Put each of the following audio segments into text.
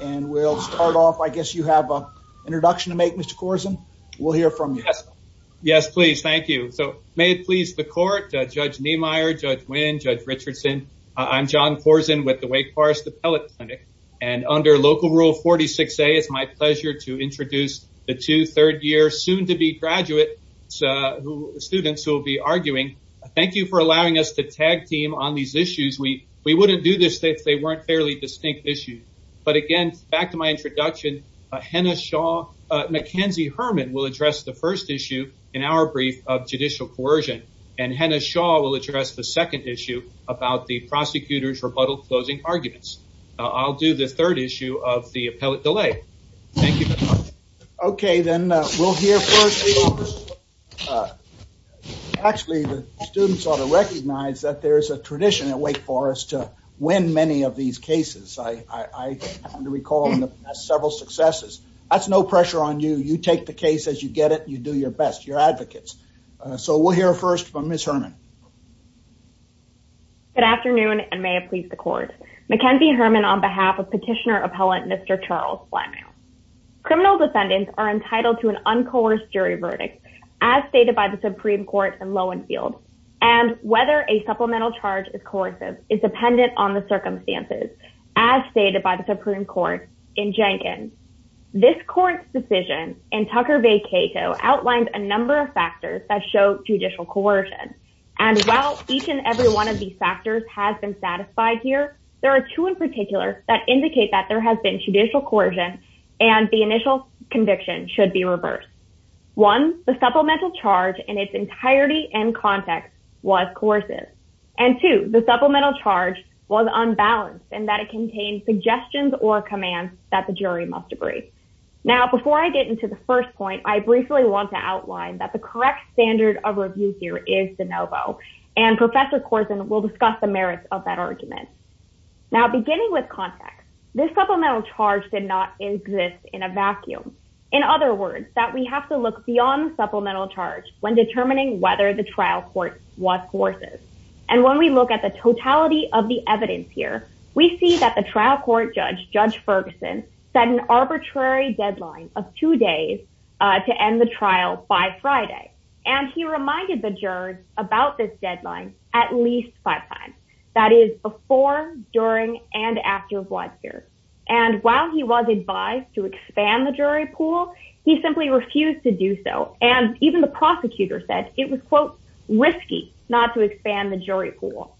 and we'll start off, I guess you have an introduction to make, Mr. Korsen. We'll hear from you. Yes, please. Thank you. So may it please the court, Judge Niemeyer, Judge Nguyen, Judge Richardson. I'm John Korsen with the Wake Forest Appellate Clinic. And under Local Rule 46A, it's my pleasure to introduce the two third year soon to be graduate students who will be arguing. Thank you for allowing us to tag team on these issues. We wouldn't do this if they weren't fairly distinct issues. But again, back to my introduction, Henna Shaw, Mackenzie Herman will address the first issue in our brief of judicial coercion. And Henna Shaw will address the second issue about the prosecutor's rebuttal closing arguments. I'll do the third issue of the appellate delay. Thank you. OK, then we'll hear first. Actually, the students ought to recognize that there is a tradition at Wake Forest to win many of these cases. I recall several successes. That's no pressure on you. You take the case as you get it. You do your best. You're advocates. So we'll hear first from Ms. Herman. Good afternoon, and may it please the court. Mackenzie Herman on behalf of petitioner appellate Mr. Charles Fleming. Criminal defendants are entitled to an uncoerced jury verdict, as stated by the Supreme Court in Lowenfield, and whether a supplemental charge is coercive is dependent on the circumstances, as stated by the Supreme Court in Jenkins. This court's decision in Tucker v. Cato outlined a number of factors that show judicial coercion. And while each and every one of these factors has been satisfied here, there are two in particular that indicate that there has been judicial coercion and the initial conviction should be reversed. One, the supplemental charge in its entirety and context was coercive. And two, the supplemental charge was unbalanced and that it contained suggestions or commands that the jury must agree. Now, before I get into the first point, I briefly want to outline that the correct standard of review here is de novo. And Professor Korsen will discuss the merits of that argument. Now, beginning with context, this supplemental charge did not exist in a vacuum. In other words, that we have to look beyond the supplemental charge when determining whether the trial court was coercive. And when we look at the totality of the evidence here, we see that the trial court judge, Judge Ferguson, set an arbitrary deadline of two days to end the trial by Friday. And he reminded the jurors about this deadline at least five times. That is, before, during, and after Wadsworth. And while he was advised to expand the jury pool, he simply refused to do so. And even the prosecutor said it was, quote, risky not to expand the jury pool.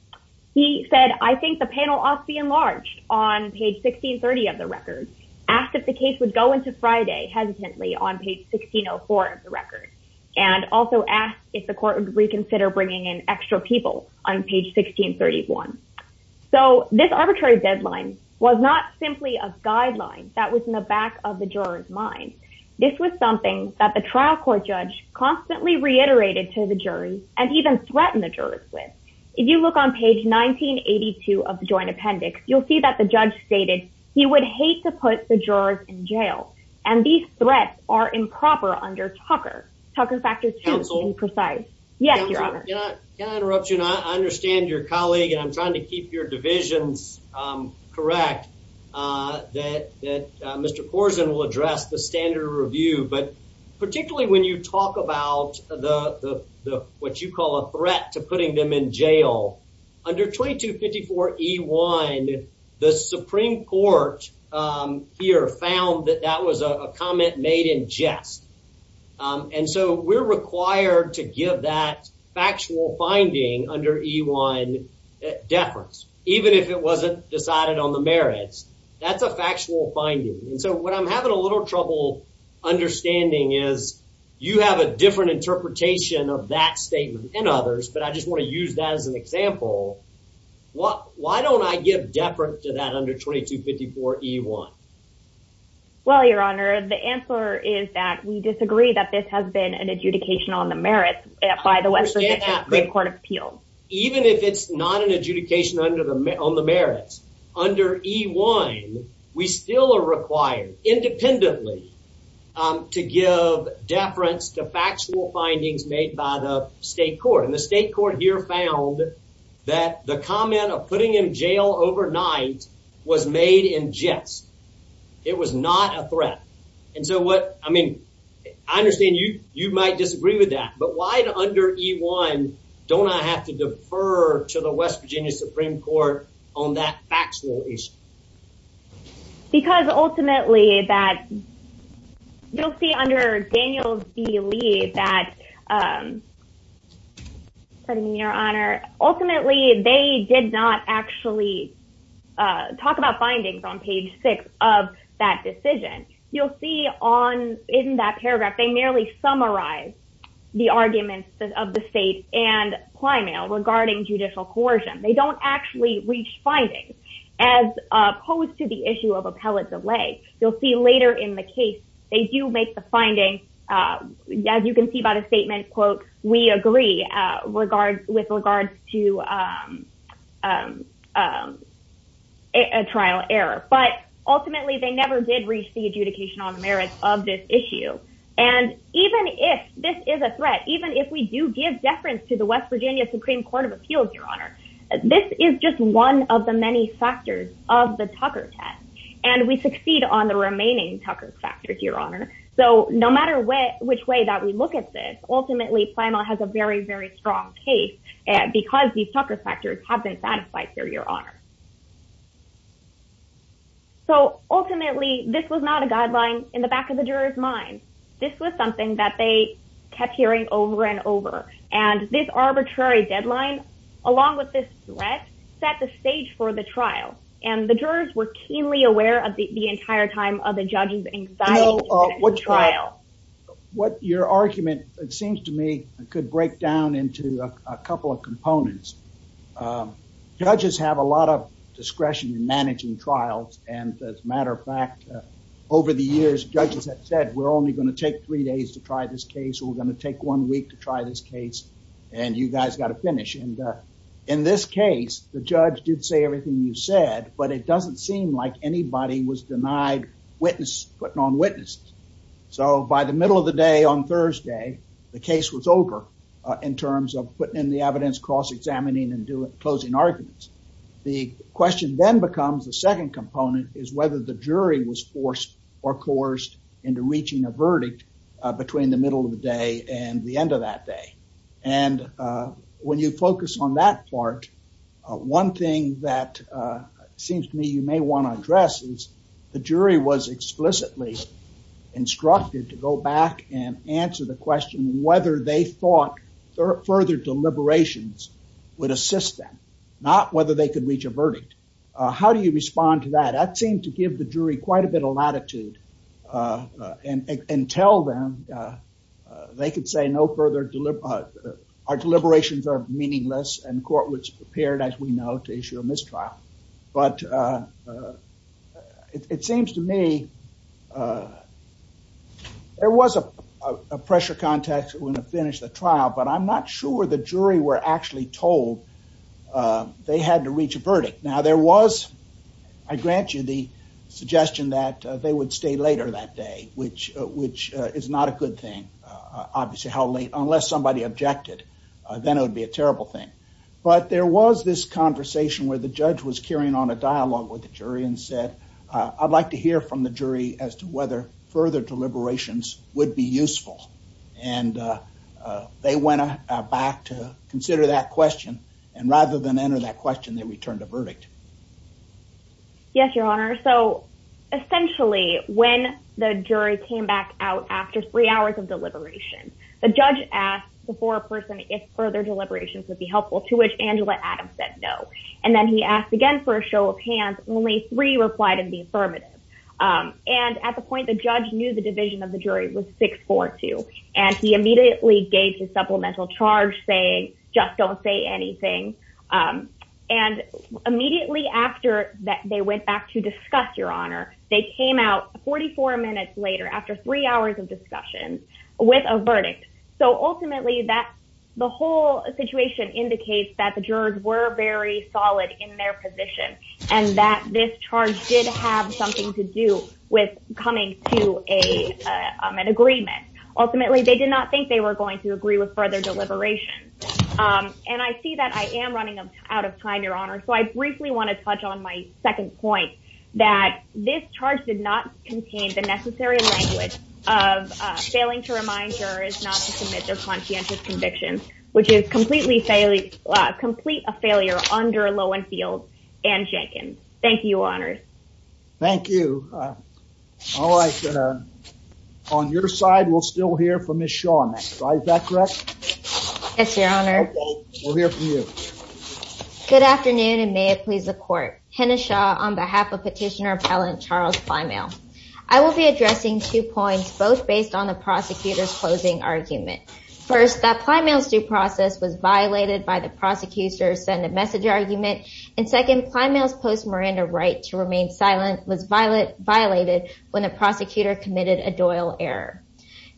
He said, I think the panel ought to be enlarged on page 1630 of the record, asked if the case would go into Friday hesitantly on page 1604 of the record. And also asked if the court would reconsider bringing in extra people on page 1631. So this arbitrary deadline was not simply a guideline that was in the back of the juror's mind. This was something that the trial court judge constantly reiterated to the jury and even threatened the jurors with. If you look on page 1982 of the joint appendix, you'll see that the judge stated he would hate to put the jurors in jail. And these threats are improper under Tucker. Tucker factors too, to be precise. Yes, Your Honor. Can I interrupt you? I understand your colleague. I'm trying to keep your divisions correct. Mr. Korsen will address the standard review. But particularly when you talk about what you call a threat to putting them in jail, under 2254E1, the Supreme Court here found that that was a comment made in jest. And so we're required to give that factual finding under E1 deference, even if it wasn't decided on the merits. That's a factual finding. And so what I'm having a little trouble understanding is you have a different interpretation of that statement than others, but I just want to use that as an example. Why don't I give deference to that under 2254E1? Well, Your Honor, the answer is that we disagree that this has been an adjudication on the merits by the West Virginia Supreme Court of Appeals. Even if it's not an adjudication on the merits under E1, we still are required, independently, to give deference to factual findings made by the state court. And the state court here found that the comment of putting him in jail overnight was made in jest. It was not a threat. And so what, I mean, I understand you might disagree with that, but why under E1 don't I have to defer to the West Virginia Supreme Court on that factual issue? Because ultimately that, you'll see under Daniels v. Lee that, Your Honor, ultimately they did not actually talk about findings on page six of that decision. You'll see on, in that paragraph, they merely summarize the arguments of the state and Plano regarding judicial coercion. They don't actually reach findings as opposed to the issue of appellate delay. You'll see later in the case, they do make the findings, as you can see by the statement, quote, we agree with regards to a trial error. But ultimately they never did reach the adjudication on the merits of this issue. And even if this is a threat, even if we do give deference to the West Virginia Supreme Court of Appeals, Your Honor, this is just one of the many factors of the Tucker test. And we succeed on the remaining Tucker factors, Your Honor. So no matter which way that we look at this, ultimately Plano has a very, very strong case because these Tucker factors have been satisfied here, Your Honor. So ultimately, this was not a guideline in the back of the juror's mind. This was something that they kept hearing over and over. And this arbitrary deadline, along with this threat, set the stage for the trial. And the jurors were keenly aware of the entire time of the judge's anxiety. Your argument, it seems to me, could break down into a couple of components. Judges have a lot of discretion in managing trials. And as a matter of fact, over the years, judges have said, we're only going to take three days to try this case. We're going to take one week to try this case. And you guys got to finish. In this case, the judge did say everything you said, but it doesn't seem like anybody was denied putting on witnesses. So by the middle of the day on Thursday, the case was over in terms of putting in the evidence, cross-examining, and closing arguments. The question then becomes the second component is whether the jury was forced or coerced into reaching a verdict between the middle of the day and the end of that day. And when you focus on that part, one thing that seems to me you may want to address is the jury was explicitly instructed to go back and answer the question whether they thought further deliberations would assist them, not whether they could reach a verdict. How do you respond to that? That seemed to give the jury quite a bit of latitude and tell them they could say our deliberations are meaningless and the court was prepared, as we know, to issue a mistrial. But it seems to me there was a pressure context when they finished the trial, but I'm not sure the jury were actually told they had to reach a verdict. Now, there was, I grant you the suggestion that they would stay later that day, which is not a good thing. Obviously, unless somebody objected, then it would be a terrible thing. But there was this conversation where the judge was carrying on a dialogue with the jury and said, I'd like to hear from the jury as to whether further deliberations would be useful. And they went back to consider that question. And rather than enter that question, they returned a verdict. Yes, Your Honor. So essentially, when the jury came back out after three hours of deliberation, the judge asked before a person if further deliberations would be helpful, to which Angela Adams said no. And then he asked again for a show of hands. Only three replied in the affirmative. And at the point, the judge knew the division of the jury was 642. And he immediately gave his supplemental charge saying, just don't say anything. And immediately after that, they went back to discuss your honor. They came out 44 minutes later after three hours of discussion with a verdict. So ultimately, the whole situation indicates that the jurors were very solid in their position and that this charge did have something to do with coming to an agreement. Ultimately, they did not think they were going to agree with further deliberations. And I see that I am running out of time, Your Honor. So I briefly want to touch on my second point, that this charge did not contain the necessary language of failing to remind jurors not to commit their conscientious conviction, which is complete a failure under Lowenfield and Jenkins. Thank you, Your Honor. Thank you. All right. On your side, we'll still hear from Ms. Shaw next. Is that correct? Yes, Your Honor. Thank you. We'll hear from you. Good afternoon, and may it please the court. Kenna Shaw on behalf of Petitioner Appellant Charles Climail. I will be addressing two points, both based on the prosecutor's closing argument. First, that Climail's due process was violated by the prosecutor's send-a-message argument. And second, Climail's post-Miranda right to remain silent was violated when a prosecutor committed a Doyle error.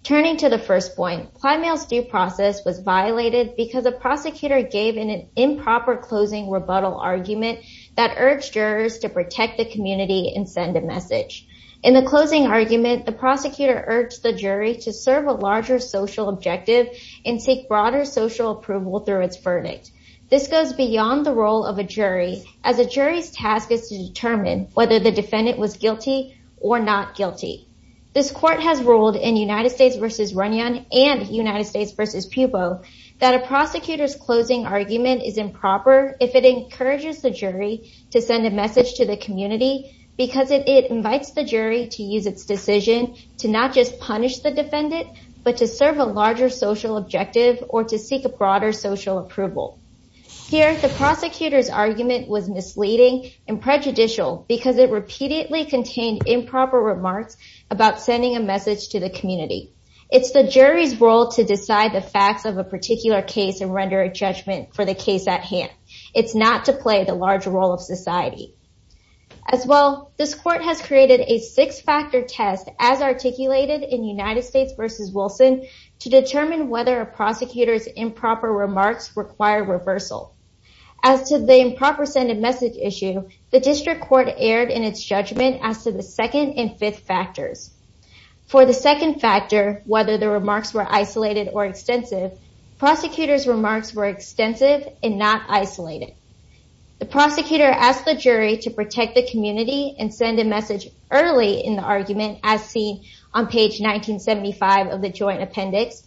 Turning to the first point, Climail's due process was violated because the prosecutor gave an improper closing rebuttal argument that urged jurors to protect the community and send a message. In the closing argument, the prosecutor urged the jury to serve a larger social objective and seek broader social approval through its verdict. This goes beyond the role of a jury, as a jury's task is to determine whether the defendant was guilty or not guilty. This court has ruled in United States v. Runyon and United States v. Pueblo that a prosecutor's closing argument is improper if it encourages the jury to send a message to the community because it invites the jury to use its decision to not just punish the defendant, but to serve a larger social objective or to seek a broader social approval. Here, the prosecutor's argument was misleading and prejudicial because it repeatedly contained improper remarks about sending a message to the community. It's the jury's role to decide the facts of a particular case and render a judgment for the case at hand. It's not to play the larger role of society. As well, this court has created a six-factor test as articulated in United States v. Wilson to determine whether a prosecutor's improper remarks require reversal. As to the improper send-a-message issue, the district court erred in its judgment as to the second and fifth factors. For the second factor, whether the remarks were isolated or extensive, prosecutors' remarks were extensive and not isolated. The prosecutor asked the jury to protect the community and send a message early in the argument, as seen on page 1975 of the joint appendix,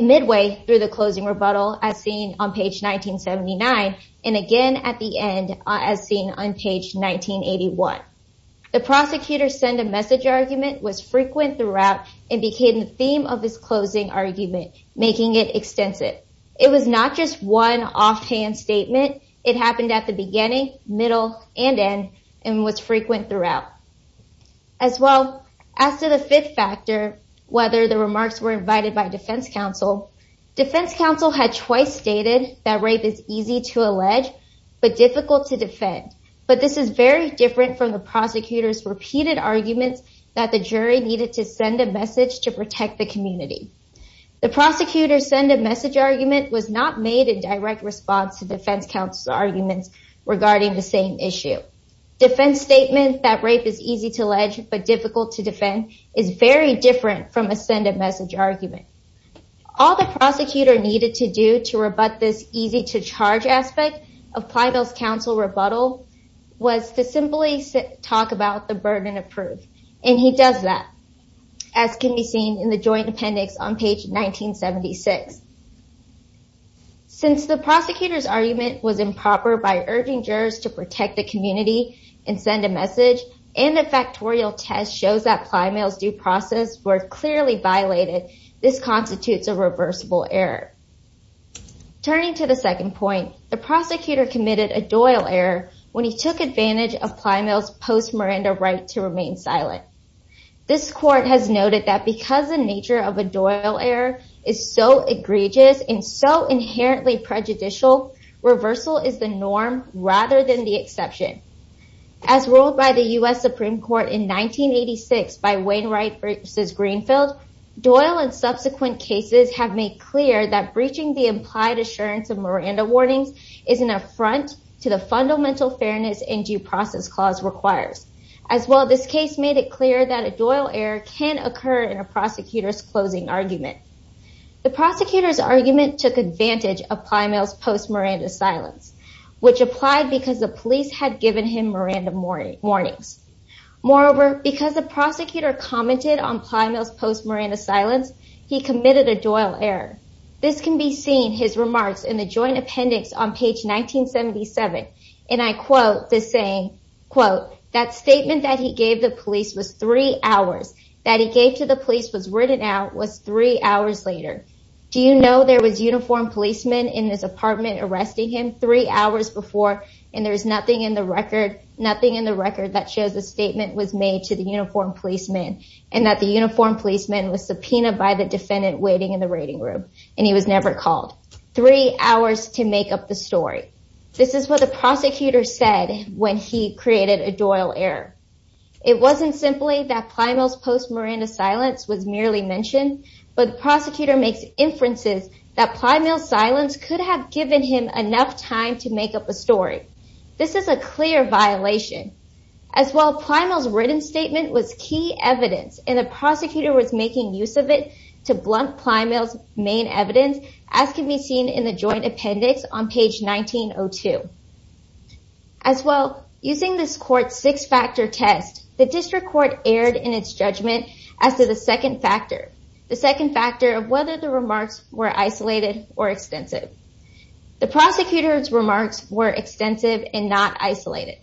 midway through the closing rebuttal, as seen on page 1979, and again at the end, as seen on page 1981. The prosecutor's send-a-message argument was frequent throughout and became the theme of this closing argument, making it extensive. It was not just one offhand statement. It happened at the beginning, middle, and end, and was frequent throughout. As well, as to the fifth factor, whether the remarks were invited by defense counsel, defense counsel had twice stated that rape is easy to allege but difficult to defend. But this is very different from the prosecutor's repeated argument that the jury needed to send a message to protect the community. The prosecutor's send-a-message argument was not made in direct response to defense counsel's argument regarding the same issue. Defense statements that rape is easy to allege but difficult to defend is very different from a send-a-message argument. All the prosecutor needed to do to rebut this easy-to-charge aspect of Plano's counsel rebuttal was to simply talk about the burden of proof. And he does that, as can be seen in the joint appendix on page 1976. Since the prosecutor's argument was improper by urging jurors to protect the community and send a message, and the factorial test shows that Plano's due process was clearly violated, this constitutes a reversible error. Turning to the second point, the prosecutor committed a Doyle error when he took advantage of Plano's post-Miranda right to remain silent. This court has noted that because the nature of a Doyle error is so egregious and so inherently prejudicial, reversal is the norm rather than the exception. As ruled by the U.S. Supreme Court in 1986 by Wainwright v. Greenfield, Doyle and subsequent cases have made clear that breaching the implied assurance of Miranda warnings is an affront to the fundamental fairness and due process clause required. As well, this case made it clear that a Doyle error can occur in a prosecutor's closing argument. The prosecutor's argument took advantage of Plano's post-Miranda silence, which applied because the police had given him Miranda warnings. Moreover, because the prosecutor commented on Plano's post-Miranda silence, he committed a Doyle error. This can be seen in his remarks in the joint appendix on page 1977. And I quote the saying, quote, that statement that he gave the police was three hours. That he gave to the police was written out was three hours later. Do you know there was uniformed policemen in this apartment arresting him three hours before and there is nothing in the record that shows a statement was made to the uniformed policemen and that the uniformed policeman was subpoenaed by the defendant waiting in the waiting room and he was never called? Three hours to make up the story. This is what the prosecutor said when he created a Doyle error. It wasn't simply that Plano's post-Miranda silence was merely mentioned, but the prosecutor makes inferences that Plano's silence could have given him enough time to make up a story. This is a clear violation. As well, Plano's written statement was key evidence and the prosecutor was making use of it to blunt Plano's main evidence as can be seen in the joint appendix on page 1902. As well, using this court's six-factor test, the district court erred in its judgment as to the second factor. The second factor of whether the remarks were isolated or extensive. The prosecutor's remarks were extensive and not isolated.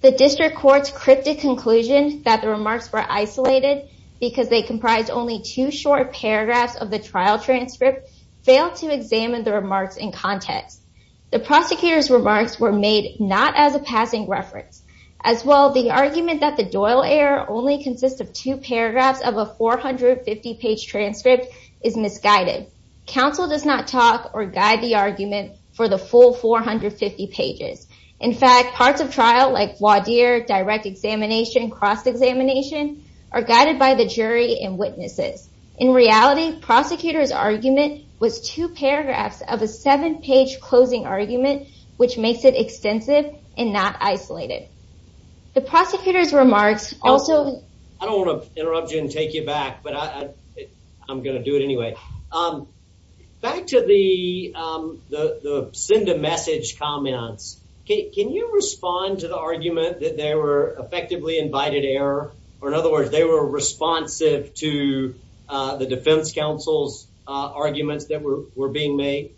The district court's cryptic conclusion that the remarks were isolated because they comprised only two short paragraphs of the trial transcript failed to examine the remarks in context. The prosecutor's remarks were made not as a passing reference. As well, the argument that the Doyle error only consists of two paragraphs of a 450-page transcript is misguided. Counsel does not talk or guide the argument for the full 450 pages. In fact, parts of trial like direct examination, cross-examination are guided by the jury and witnesses. In reality, prosecutor's argument was two paragraphs of a seven-page closing argument which makes it extensive and not isolated. The prosecutor's remarks also... I don't want to interrupt you and take you back, but I'm going to do it anyway. Back to the send-a-message comments. Can you respond to the argument that they were effectively invited error? Or in other words, they were responsive to the defense counsel's arguments that were being made?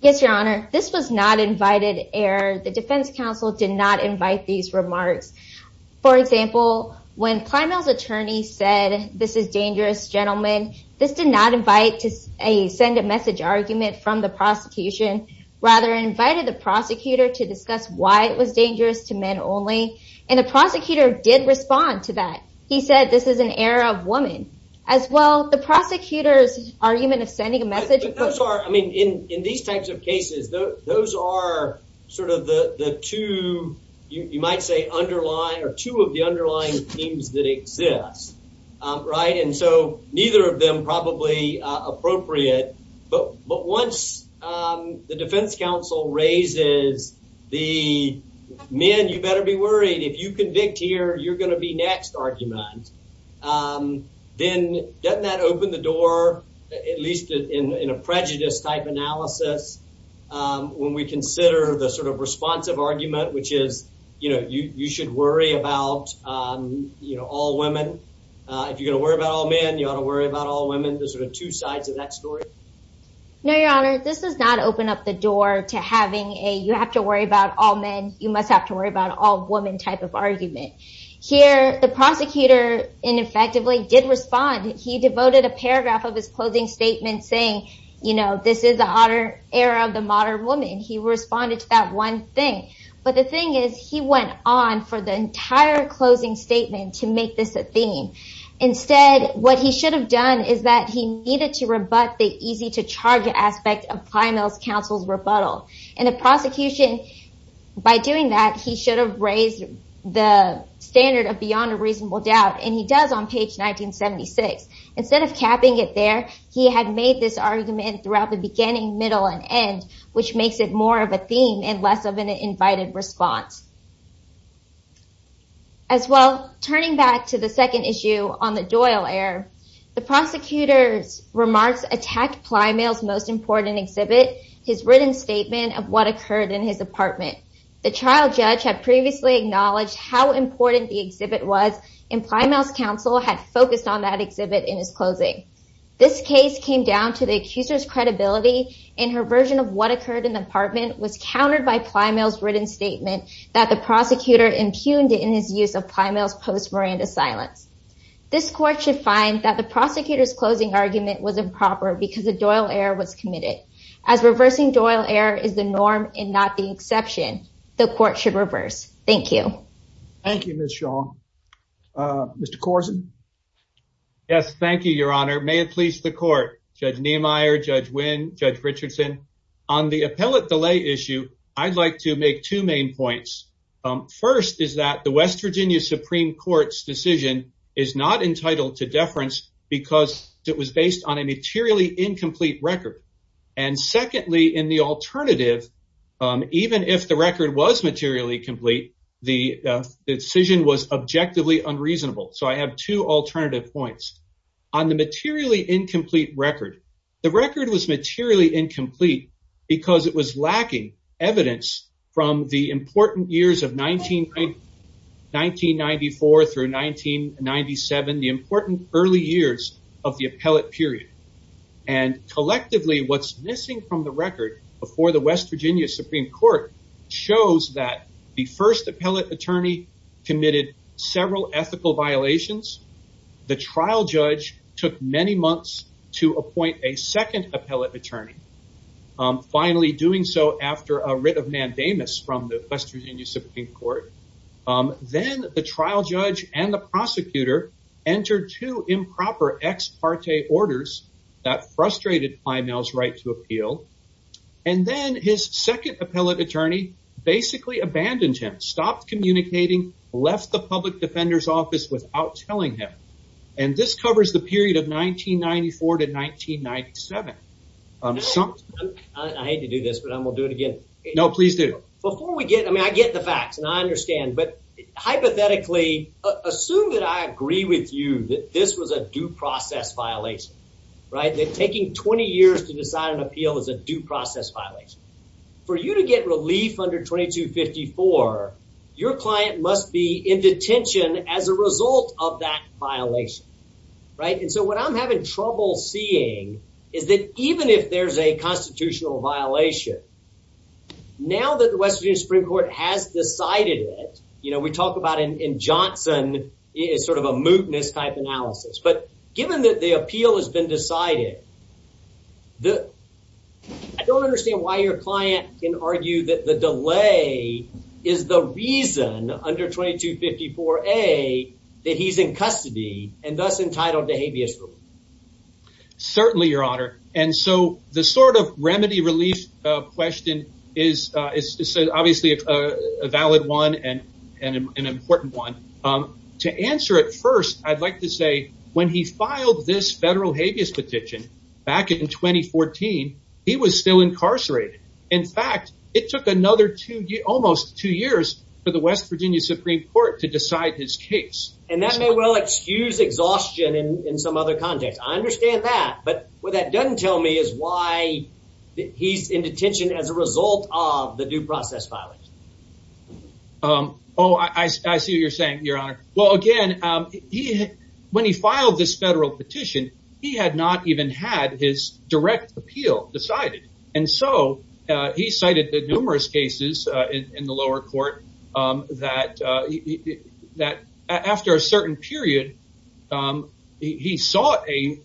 Yes, Your Honor. This was not invited error. The defense counsel did not invite these remarks. For example, when Primal's attorney said, this is dangerous, gentlemen, this did not invite a send-a-message argument from the prosecution. Rather, it invited the prosecutor to discuss why it was dangerous to men only. And the prosecutor did respond to that. He said, this is an error of women. As well, the prosecutor's argument of sending a message... In these types of cases, those are sort of the two, you might say, underlying or two of the underlying themes that exist, right? And so neither of them probably appropriate. But once the defense counsel raises the, man, you better be worried. If you convict here, you're going to be next, argument. Then, doesn't that open the door, at least in a prejudice type analysis, when we consider the sort of responsive argument, which is, you know, you should worry about all women. If you're going to worry about all men, you ought to worry about all women. Those are the two sides of that story. No, Your Honor. This does not open up the door to having a, you have to worry about all men, you must have to worry about all women type of argument. Here, the prosecutor, ineffectively, did respond. He devoted a paragraph of his closing statement saying, you know, this is an error of the modern woman. He responded to that one thing. But the thing is, he went on for the entire closing statement to make this a theme. Instead, what he should have done is that he needed to rebut the easy to charge aspect of primal counsel rebuttal. And the prosecution, by doing that, he should have raised the standard of beyond a reasonable doubt, and he does on page 1976. Instead of tapping it there, he had made this argument throughout the beginning, middle, and end, which makes it more of a theme and less of an invited response. As well, turning back to the second issue on the Doyle error, the prosecutor's remarks attack primal's most important exhibit, his written statement of what occurred in his apartment. The trial judge had previously acknowledged how important the exhibit was, and primal's counsel had focused on that exhibit in his closing. This case came down to the accuser's credibility, and her version of what occurred in the apartment was countered by primal's written statement that the prosecutor impugned it in his use of primal's post-Miranda silence. This court should find that the prosecutor's closing argument was improper because a Doyle error was committed. As reversing Doyle error is the norm and not the exception, the court should reverse. Thank you. Thank you, Ms. Shaw. Mr. Corson? Yes, thank you, Your Honor. May it please the court, Judge Niemeyer, Judge Wynn, Judge Richardson. On the appellate delay issue, I'd like to make two main points. First is that the West Virginia Supreme Court's decision is not entitled to deference because it was based on a materially incomplete record. And secondly, in the alternative, even if the record was materially complete, the decision was objectively unreasonable. So I have two alternative points. On the materially incomplete record, the record was materially incomplete because it was lacking evidence from the important years of 1994 through 1997, the important early years of the appellate period. And collectively, what's missing from the record before the West Virginia Supreme Court shows that the first appellate attorney committed several ethical violations. The trial judge took many months to appoint a second appellate attorney, finally doing so after a writ of mandamus from the West Virginia Supreme Court. Then the trial judge and the prosecutor entered two improper ex parte orders that frustrated Plimell's right to appeal. And then his second appellate attorney basically abandoned him, stopped communicating, left the public defender's office without telling him. And this covers the period of 1994 to 1997. I hate to do this, but I'm going to do it again. No, please do. I get the facts, and I understand. But hypothetically, assume that I agree with you that this was a due process violation, that taking 20 years to decide an appeal is a due process violation. For you to get relief under 2254, your client must be in detention as a result of that violation. And so what I'm having trouble seeing is that even if there's a constitutional violation, now that the West Virginia Supreme Court has decided it, we talk about in Johnson, it's sort of a mootness type analysis. But given that the appeal has been decided, I don't understand why your client can argue that the delay is the reason under 2254A that he's in custody and thus entitled to habeas relief. Certainly, Your Honor. And so the sort of remedy relief question is obviously a valid one and an important one. To answer it first, I'd like to say when he filed this federal habeas petition back in 2014, he was still incarcerated. In fact, it took another almost two years for the West Virginia Supreme Court to decide his case. And that may well excuse exhaustion in some other context. I understand that. But what that doesn't tell me is why he's in detention as a result of the due process violation. Oh, I see what you're saying, Your Honor. Well, again, when he filed this federal petition, he had not even had his direct appeal decided. And so he cited the numerous cases in the lower court that after a certain period, he saw a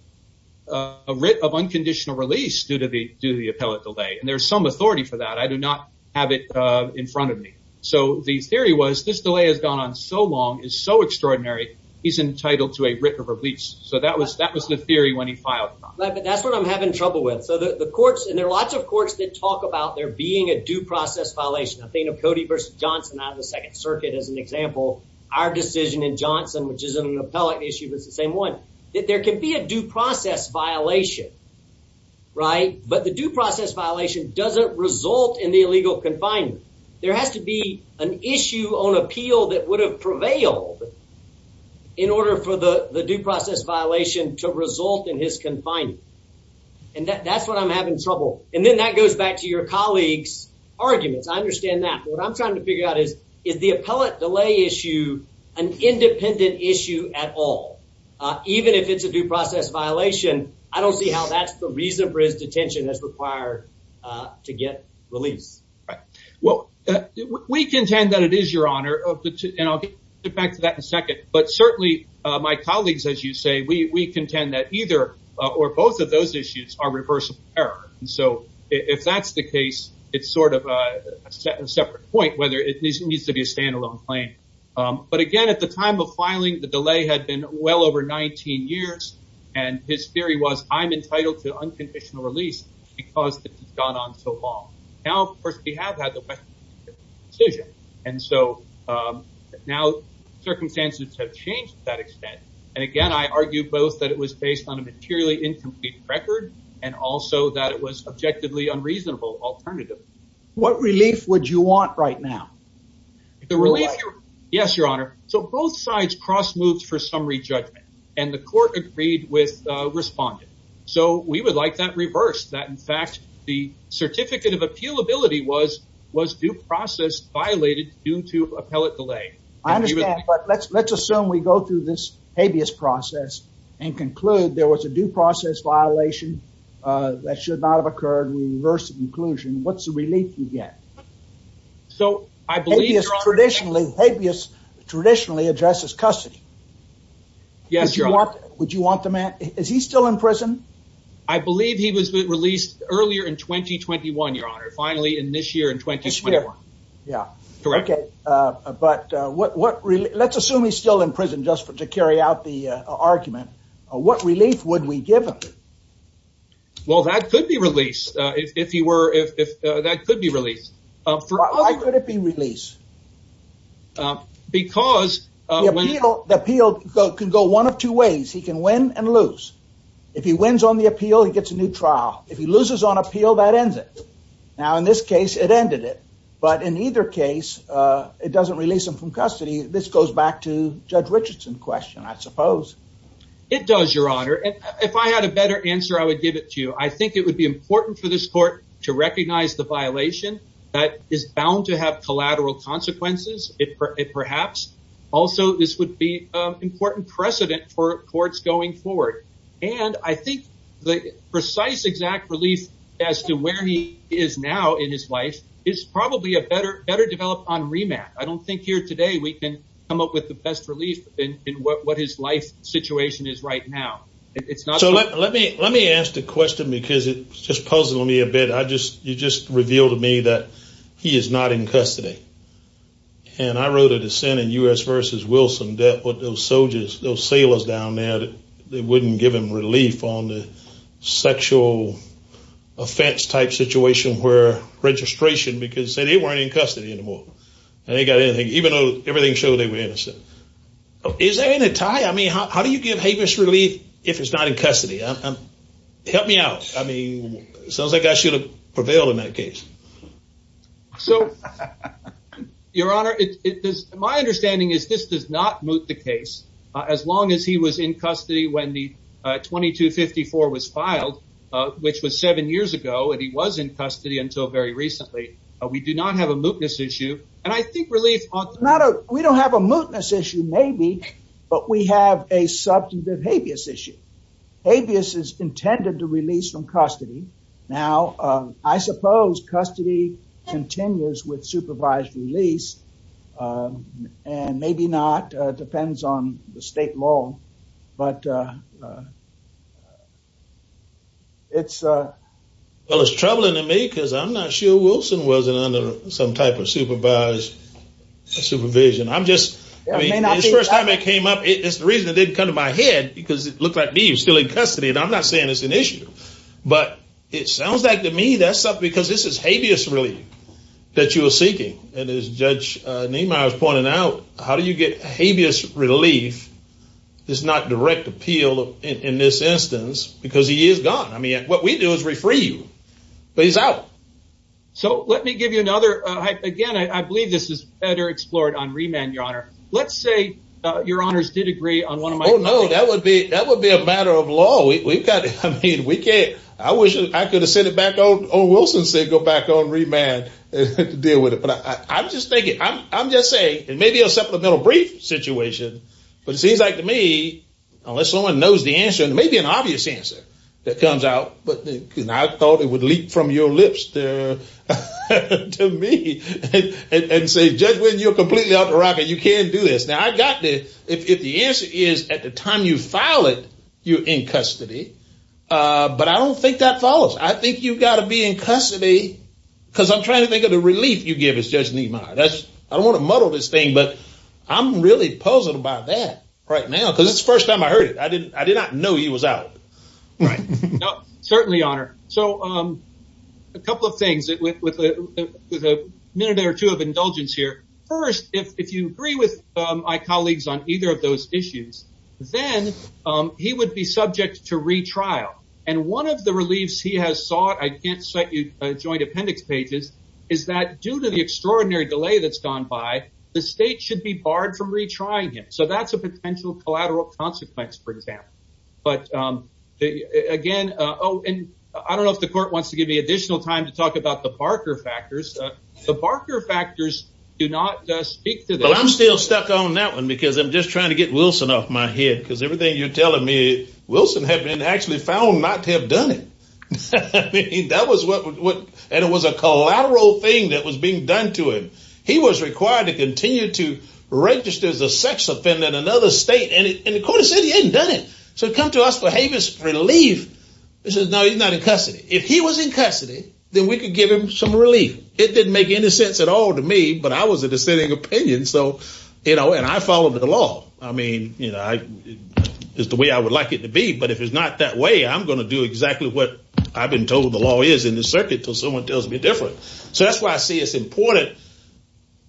writ of unconditional release due to the appellate delay. And there's some authority for that. I do not have it in front of me. So the theory was this delay has gone on so long, is so extraordinary, he's entitled to a writ of release. So that was that was the theory when he filed. That's what I'm having trouble with. So the courts and there are lots of courts that talk about there being a due process violation. Athena Cody versus Johnson out of the Second Circuit is an example. Our decision in Johnson, which is an appellate issue, is the same one. There can be a due process violation, right? But the due process violation doesn't result in the illegal confinement. There has to be an issue on appeal that would have prevailed in order for the due process violation to result in his confinement. And that's what I'm having trouble with. And then that goes back to your colleague's argument. I understand that. What I'm trying to figure out is, is the appellate delay issue an independent issue at all? Even if it's a due process violation, I don't see how that's the reason for his detention as required to get released. Well, we contend that it is, Your Honor. And I'll get back to that in a second. But certainly, my colleagues, as you say, we contend that either or both of those issues are reversible error. So if that's the case, it's sort of a separate point whether it needs to be a standalone claim. But again, at the time of filing, the delay had been well over 19 years. And his theory was, I'm entitled to unconditional release because it's gone on so long. Now, First Behalf has a decision. And so now circumstances have changed to that extent. And again, I argue both that it was based on a materially incomplete record and also that it was objectively unreasonable alternative. What relief would you want right now? Yes, Your Honor. So both sides cross moves for summary judgment. And the court agreed with responding. So we would like that reversed, that in fact the certificate of appealability was due process violated due to appellate delay. I understand. But let's assume we go through this habeas process and conclude there was a due process violation that should not have occurred. Reverse inclusion. What's the relief you get? So I believe traditionally habeas traditionally addresses custody. Yes, Your Honor. Would you want the man? Is he still in prison? I believe he was released earlier in 2021, Your Honor. Finally, in this year in 2021. Yeah. Correct. Okay. But what let's assume he's still in prison just to carry out the argument. What relief would we give him? Well, that could be released if he were if that could be released. Why could it be released? Because the appeal can go one of two ways. He can win and lose. If he wins on the appeal, he gets a new trial. If he loses on appeal, that ends it. Now, in this case, it ended it. But in either case, it doesn't release him from custody. This goes back to Judge Richardson's question, I suppose. It does, Your Honor. If I had a better answer, I would give it to you. I think it would be important for this court to recognize the violation that is bound to have collateral consequences, if perhaps. Also, this would be important precedent for courts going forward. And I think the precise exact relief as to where he is now in his life is probably a better develop on remand. I don't think here today we can come up with the best relief in what his life situation is right now. Let me ask the question because it's just puzzled me a bit. You just revealed to me that he is not in custody. And I wrote a dissent in U.S. versus Wilson that put those soldiers, those sailors down there that wouldn't give him relief on the sexual offense type situation where registration because they weren't in custody anymore. Even though everything showed they were innocent. Is there any tie? I mean, how do you give him his relief if he's not in custody? Help me out. I mean, it sounds like I should have prevailed in that case. So, Your Honor, my understanding is this does not move the case as long as he was in custody when the 2254 was filed, which was seven years ago. And he was in custody until very recently. We do not have a mootness issue. And I think relief on that. We don't have a mootness issue, maybe. But we have a substantive habeas issue. Habeas is intended to release from custody. Now, I suppose custody continues with supervised release. And maybe not. It depends on the state law. But it's... Well, it's troubling to me because I'm not sure Wilson was under some type of supervised supervision. I'm just... I mean, the first time it came up, it's the reason it didn't come to my head because it looked like he was still in custody. And I'm not saying it's an issue. But it sounds like to me that's up because this is habeas relief that you are seeking. And as Judge Niemeyer pointed out, how do you get habeas relief is not direct appeal in this instance because he is gone. I mean, what we do is refree you. But he's out. So, let me give you another... Again, I believe this is better explored on remand, Your Honor. Let's say Your Honors did agree on one of my... Oh, no. That would be a matter of law. We've got... I mean, we can't... I wish I could have sent it back on... Or Wilson said go back on remand to deal with it. But I'm just thinking... I'm just saying it may be a supplemental brief situation. But it seems like to me, unless someone knows the answer, it may be an obvious answer that comes out. But I thought it would leak from your lips to me and say, Judge, when you're completely out of the racket, you can't do this. Now, I've got the... If the answer is at the time you file it, you're in custody. But I don't think that follows. I think you've got to be in custody because I'm trying to think of the relief you give as Judge Nimoy. I don't want to muddle this thing, but I'm really puzzled about that right now because it's the first time I heard it. I did not know he was out. Right. Certainly, Your Honor. So, a couple of things with a minute or two of indulgence here. First, if you agree with my colleagues on either of those issues, then he would be subject to retrial. And one of the reliefs he has sought, I can't cite you joint appendix pages, is that due to the extraordinary delay that's gone by, the state should be barred from retrying him. So that's a potential collateral consequence, for example. But, again... Oh, and I don't know if the court wants to give me additional time to talk about the Barker factors. The Barker factors do not speak to the... Well, I'm still stuck on that one because I'm just trying to get Wilson off my head. Because everything you're telling me, Wilson had been actually found not to have done it. I mean, that was what... And it was a collateral thing that was being done to him. He was required to continue to register as a sex offender in another state. And the court has said he hasn't done it. So come to us for haven't relief. It says, no, he's not in custody. If he was in custody, then we could give him some relief. It didn't make any sense at all to me, but I was a dissenting opinion. So, you know, and I followed the law. I mean, you know, it's the way I would like it to be. But if it's not that way, I'm going to do exactly what I've been told the law is in the circuit until someone tells me different. So that's why I see it's important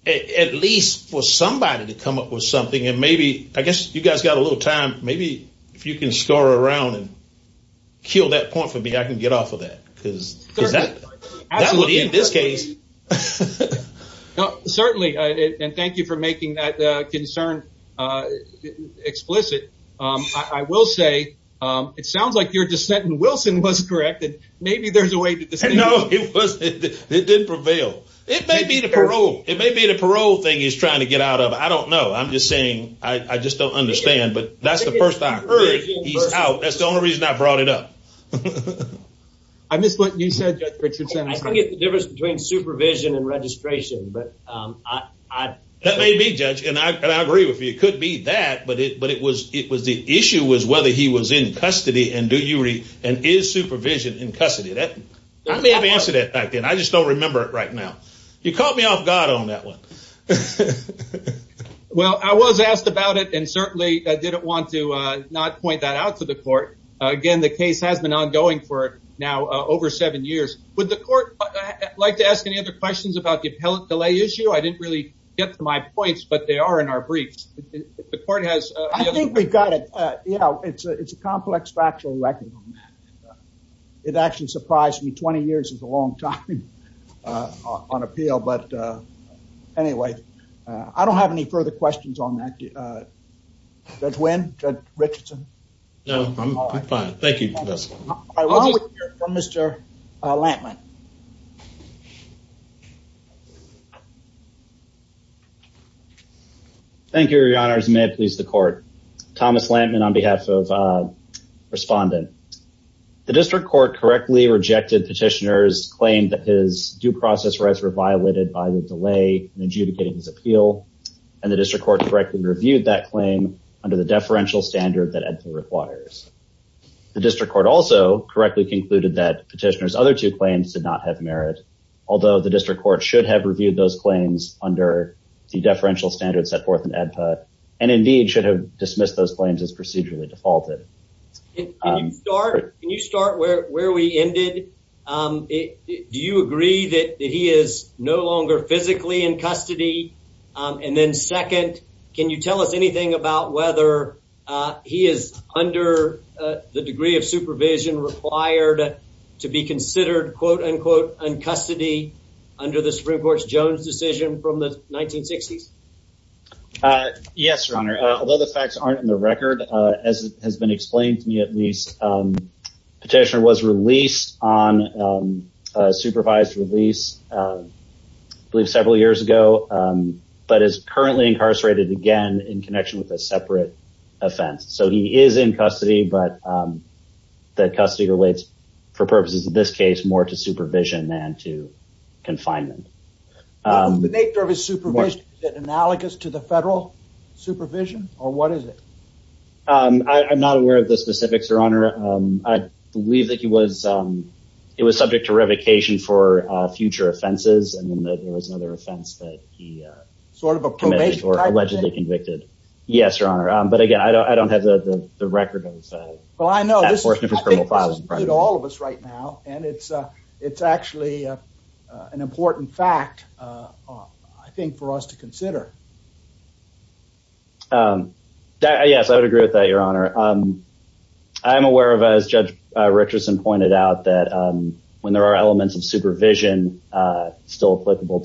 at least for somebody to come up with something. And maybe I guess you guys got a little time. Maybe if you can scour around and kill that point for me, I can get off of that. Because that would be in this case. Certainly. And thank you for making that concern explicit. I will say it sounds like your dissent in Wilson was correct. And maybe there's a way to... No, it wasn't. It didn't prevail. It may be the parole thing he's trying to get out of. I don't know. I'm just saying I just don't understand. But that's the first I heard he's out. That's the only reason I brought it up. I missed what you said, Judge Richardson. I think it's the difference between supervision and registration. That may be, Judge. And I agree with you. It could be that. But it was the issue was whether he was in custody and is supervision in custody. I may have answered that back then. I just don't remember it right now. You caught me off guard on that one. Well, I was asked about it and certainly didn't want to not point that out to the court. Again, the case has been ongoing for now over seven years. Would the court like to ask any other questions about the health delay issue? I didn't really get to my points, but they are in our briefs. I think we've got it. It's a complex factual record. It actually surprised me. 20 years is a long time on appeal. Anyway, I don't have any further questions on that. Judge Wynn, Judge Richardson. No, I'm fine. Thank you, Judge. Mr. Lantman. Thank you, Your Honors. May it please the court. Thomas Lantman on behalf of Respondent. The district court correctly rejected petitioner's claim that his due process rights were violated by the delay in adjudicating his appeal, and the district court correctly reviewed that claim under the deferential standard that AEDPA requires. The district court also correctly concluded that petitioner's other two claims did not have merit, although the district court should have reviewed those claims under the deferential standards set forth in AEDPA and indeed should have dismissed those claims as procedurally defaulted. Can you start where we ended? Do you agree that he is no longer physically in custody? And then second, can you tell us anything about whether he is under the degree of supervision required to be considered, quote unquote, in custody under the Supreme Court's Jones decision from the 1960s? Yes, Your Honor, although the facts aren't in the record, as has been explained to me at least, petitioner was released on supervised release, I believe several years ago, but is currently incarcerated again in connection with a separate offense. So he is in custody, but the custody relates, for purposes of this case, more to supervision than to confinement. Is the nature of his supervision analogous to the federal supervision, or what is it? I'm not aware of the specifics, Your Honor. I believe that he was subject to revocation for future offenses, and there was another offense that he allegedly convicted. Yes, Your Honor, but again, I don't have the record of this. Well, I know this is happening to all of us right now, and it's actually an important fact, I think, for us to consider. Yes, I would agree with that, Your Honor. I'm aware of, as Judge Richardson pointed out, that when there are elements of supervision still applicable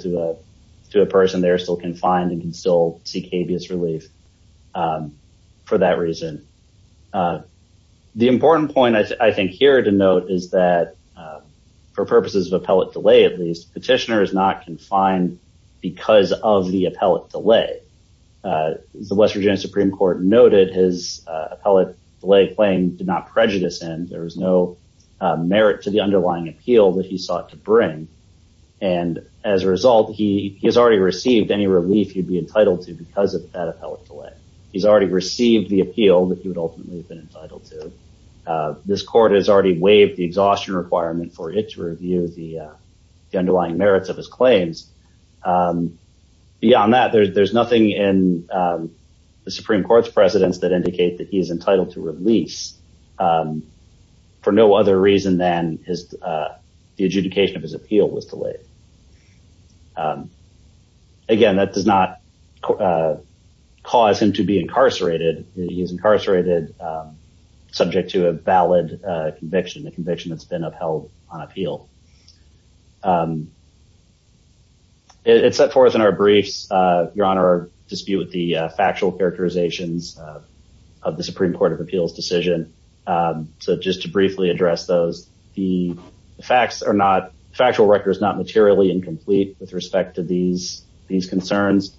to a person, they're still confined and can still seek habeas relief for that reason. The important point, I think, here to note is that, for purposes of appellate delay at least, petitioner is not confined because of the appellate delay. The West Virginia Supreme Court noted his appellate delay claim did not prejudice him. There was no merit to the underlying appeal that he sought to bring, and as a result, he has already received any relief he'd be entitled to because of that appellate delay. He's already received the appeal that he would ultimately have been entitled to. This court has already waived the exhaustion requirement for him to review the underlying merits of his claims. Beyond that, there's nothing in the Supreme Court's precedence that indicates that he is entitled to relief for no other reason than the adjudication of his appeal was delayed. Again, that does not cause him to be incarcerated. He is incarcerated subject to a valid conviction, a conviction that's been upheld on appeal. It's set forth in our briefs, Your Honor, our dispute with the factual characterizations of the Supreme Court of Appeals decision. So just to briefly address those, the facts are not factual records, not materially incomplete with respect to these concerns.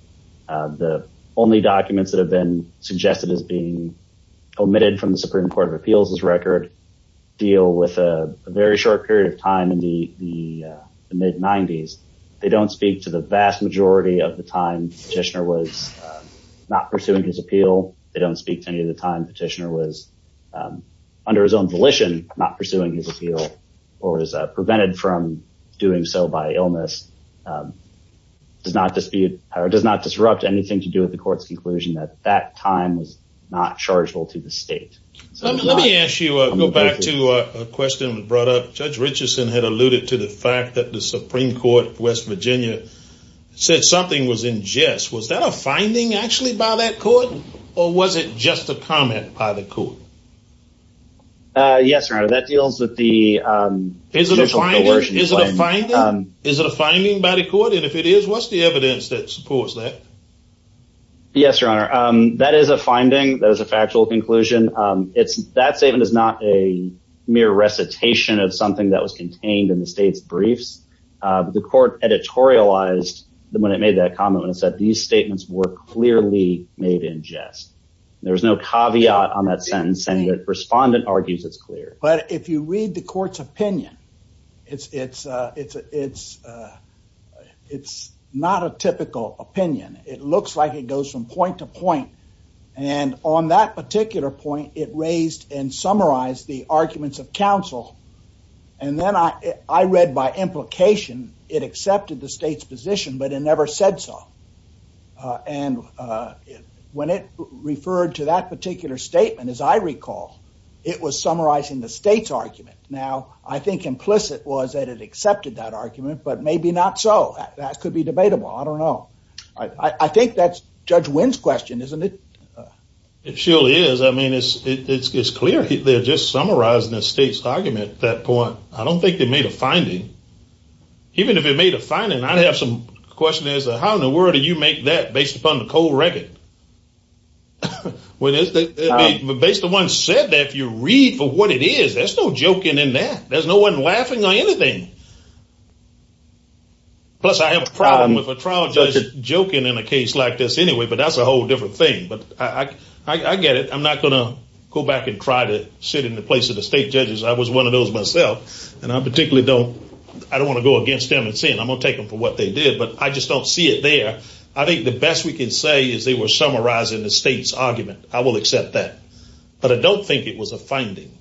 The only documents that have been suggested as being omitted from the Supreme Court of Appeals record deal with a very short period of time in the mid-'90s. They don't speak to the vast majority of the time Petitioner was not pursuing his appeal. They don't speak to any of the times Petitioner was, under his own volition, not pursuing his appeal or was prevented from doing so by illness. It does not disrupt anything to do with the court's conclusion that that time was not chargeable to the state. Let me ask you, go back to a question that was brought up. Judge Richardson had alluded to the fact that the Supreme Court of West Virginia said something was in jest. Was that a finding, actually, by that court? Or was it just a comment by the court? Yes, Your Honor, that deals with the... Is it a finding? Is it a finding? Is it a finding by the court? And if it is, what's the evidence that supports that? Yes, Your Honor. That is a finding. That is a factual conclusion. That statement is not a mere recitation of something that was contained in the state's briefs. The court editorialized when it made that comment when it said these statements were clearly made in jest. There's no caveat on that sentence, and the respondent argues it's clear. But if you read the court's opinion, it's not a typical opinion. It looks like it goes from point to point. And on that particular point, it raised and summarized the arguments of counsel. And then I read by implication it accepted the state's position, but it never said so. And when it referred to that particular statement, as I recall, it was summarizing the state's argument. Now, I think implicit was that it accepted that argument, but maybe not so. That could be debatable. I don't know. I think that's Judge Wynn's question, isn't it? It surely is. I mean, it's clear they're just summarizing the state's argument at that point. I don't think they made a finding. Even if it made a finding, I have some questions as to how in the world do you make that based upon the cold record? Based on what's said there, if you read what it is, there's no joking in that. There's no one laughing on anything. Plus, I have a problem with a trial judge joking in a case like this anyway, but that's a whole different thing. But I get it. I'm not going to go back and try to sit in the place of the state judges. I was one of those myself. And I particularly don't want to go against them and say I'm going to take them for what they did, but I just don't see it there. I think the best we can say is they were summarizing the state's argument. I will accept that. But I don't think it was a finding.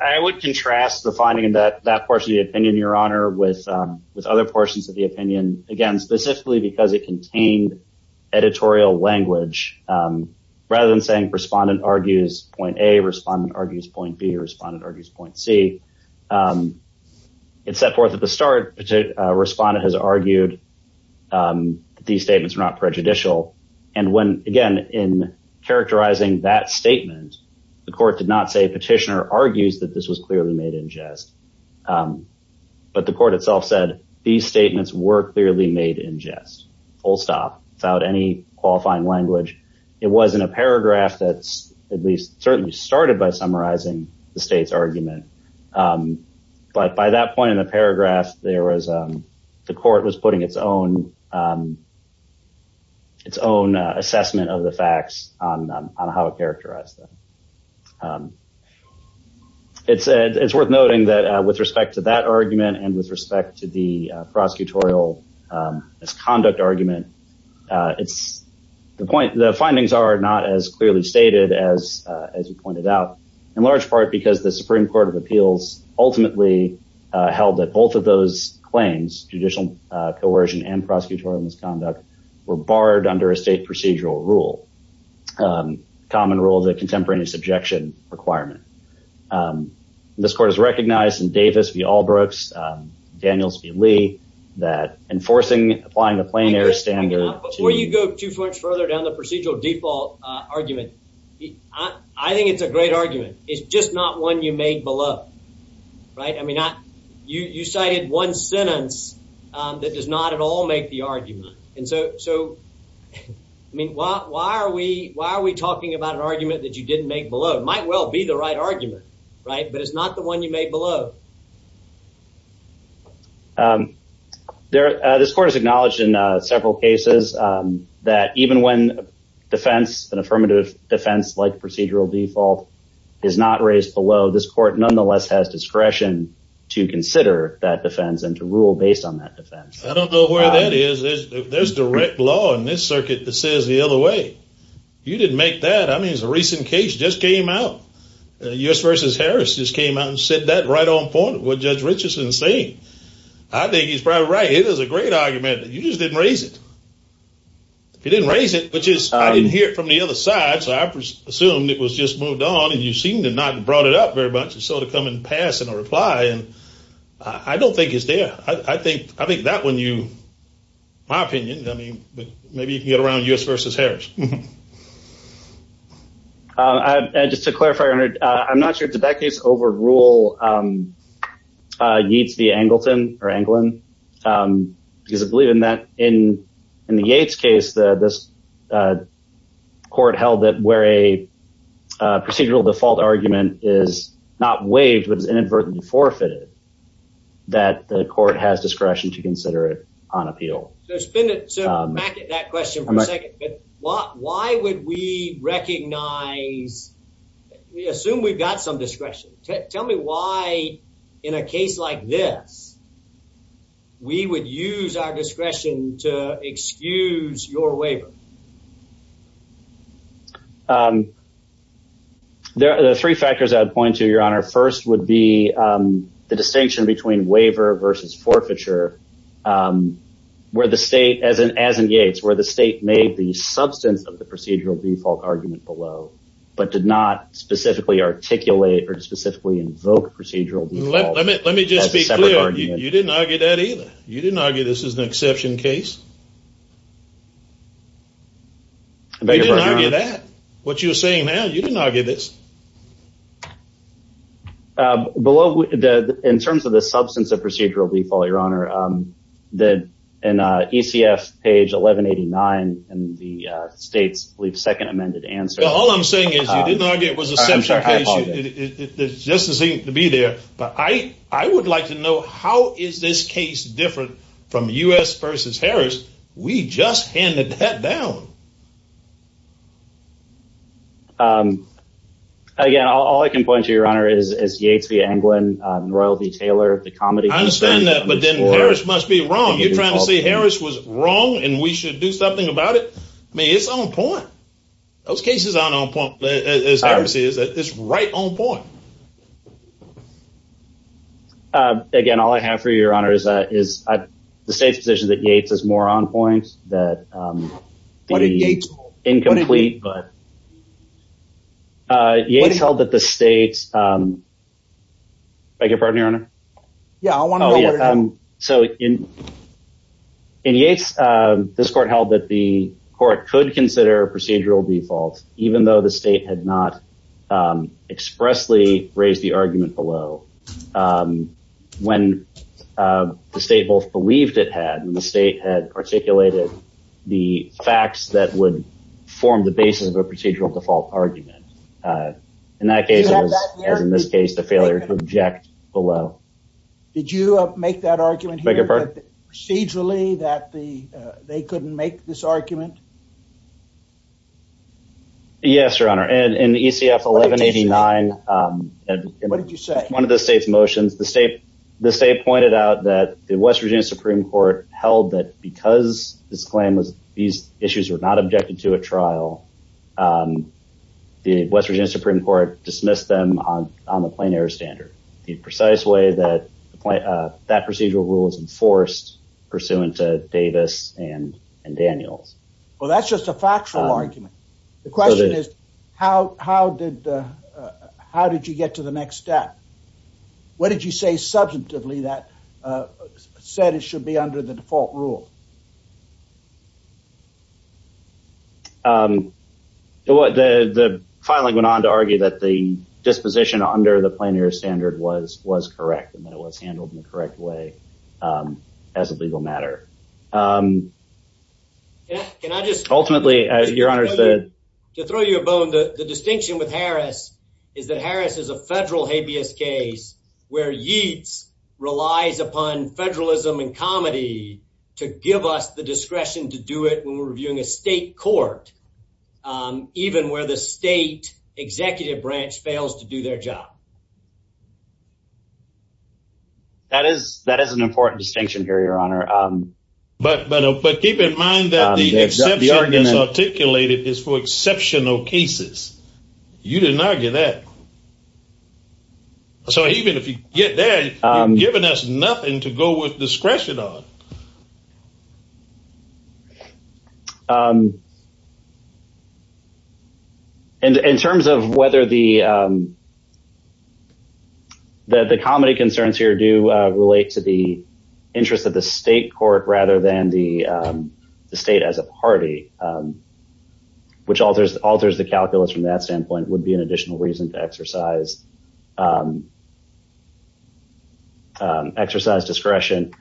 I would contrast the finding in that portion of the opinion, Your Honor, with other portions of the opinion. Again, specifically because it contained editorial language. Rather than saying respondent argues point A, respondent argues point B, respondent argues point C. It's set forth at the start, respondent has argued these statements are not prejudicial. And when, again, in characterizing that statement, the court did not say petitioner argues that this was clearly made in jest. But the court itself said these statements were clearly made in jest. Without any qualifying language. It was in a paragraph that's at least certainly started by summarizing the state's argument. But by that point in the paragraph, the court was putting its own assessment of the facts on how it characterized them. It's worth noting that with respect to that argument and with respect to the prosecutorial misconduct argument, the findings are not as clearly stated as you pointed out. In large part because the Supreme Court of Appeals ultimately held that both of those claims, judicial coercion and prosecutorial misconduct, were barred under a state procedural rule. Common rule that contemporaneous objection requirement. This court has recognized in Davis v. Albrooks, Daniels v. Lee, that enforcing, applying the plain air standard. Before you go too much further down the procedural default argument, I think it's a great argument. It's just not one you made beloved. You cited one sentence that does not at all make the argument. And so, I mean, why are we talking about an argument that you didn't make below? It might well be the right argument, right? But it's not the one you made below. This court has acknowledged in several cases that even when defense, an affirmative defense like procedural default, is not raised below, this court nonetheless has discretion to consider that defense and to rule based on that defense. I don't know where that is. There's direct law in this circuit that says the other way. You didn't make that. I mean, there's a recent case that just came out. U.S. v. Harris just came out and said that right on point, what Judge Richardson is saying. I think he's probably right. It is a great argument. You just didn't raise it. You didn't raise it because I didn't hear it from the other side, so I assumed it was just moved on and you seemed to not have brought it up very much and sort of come and pass in a reply. I don't think it's there. I think that when you, in my opinion, maybe you can get around U.S. v. Harris. Just to clarify, I'm not sure if the back case overruled Yeats v. Angleton or Anglin, because I believe in the Yeats case this court held that where a procedural default argument is not waived which was inadvertently forfeited, that the court has discretion to consider it on appeal. So back to that question for a second. Why would we recognize, we assume we've got some discretion. Tell me why in a case like this we would use our discretion to excuse your waiver. There are three factors I would point to, Your Honor. First would be the distinction between waiver versus forfeiture where the state, as in Yeats, where the state made the substance of the procedural default argument below but did not specifically articulate or specifically invoke procedural default. Let me just be clear. You didn't argue that either. You didn't argue this is an exception case? You didn't argue that. What you're saying now, you didn't argue this. In terms of the substance of procedural default, Your Honor, in ECF page 1189 in the state's second amended answer. All I'm saying is you didn't argue it was an exception case. It's just a thing to be there. But I would like to know how is this case different from U.S. versus Harris? We just handed that down. Again, all I can point to, Your Honor, is Yeats v. Englund, Royal v. Taylor, the comedy. I understand that, but then Harris must be wrong. You're trying to say Harris was wrong and we should do something about it? I mean, it's on point. Those cases aren't on point. It's right on point. Again, all I have for you, Your Honor, is the state's position that Yeats is more on point, that it would be incomplete, but Yeats held that the state. Can I get a pardon, Your Honor? Yeah, I want to go over that. So in Yeats, this court held that the court could consider procedural default, even though the state had not expressly raised the argument below. When the state both believed it had and the state had articulated the facts that would form the basis of a procedural default argument. In that case, and in this case, the failure to object below. Did you make that argument here procedurally that they couldn't make this argument? Yes, Your Honor. And in ECF 1189. What did you say? One of the state's motions. The state pointed out that the West Virginia Supreme Court held that because this claim was these issues were not objected to a trial. The West Virginia Supreme Court dismissed them on the plenary standard. The precise way that that procedural rule is enforced pursuant to Davis and Daniel. Well, that's just a factual argument. The question is, how did you get to the next step? What did you say? Subjectively, that said it should be under the default rule. The filing went on to argue that the disposition under the plenary standard was correct and that was handled in the correct way as a legal matter. Yes. Can I just ultimately, as your honor said, to throw you a bone? The distinction with Harris is that Harris is a federal habeas case where yeats relies upon federalism and comedy to give us the discretion to do it. When we're doing a state court, even where the state executive branch fails to do their job. That is that is an important distinction here. Your honor. But but but keep in mind that the argument articulated is for exceptional cases. You didn't argue that. So even if you get there, given us nothing to go with discretion on. And in terms of whether the. That the comedy concerns here do relate to the interest of the state court rather than the state as a party. Which alters alters the calculus from that standpoint would be an additional reason to exercise. Exercise discretion.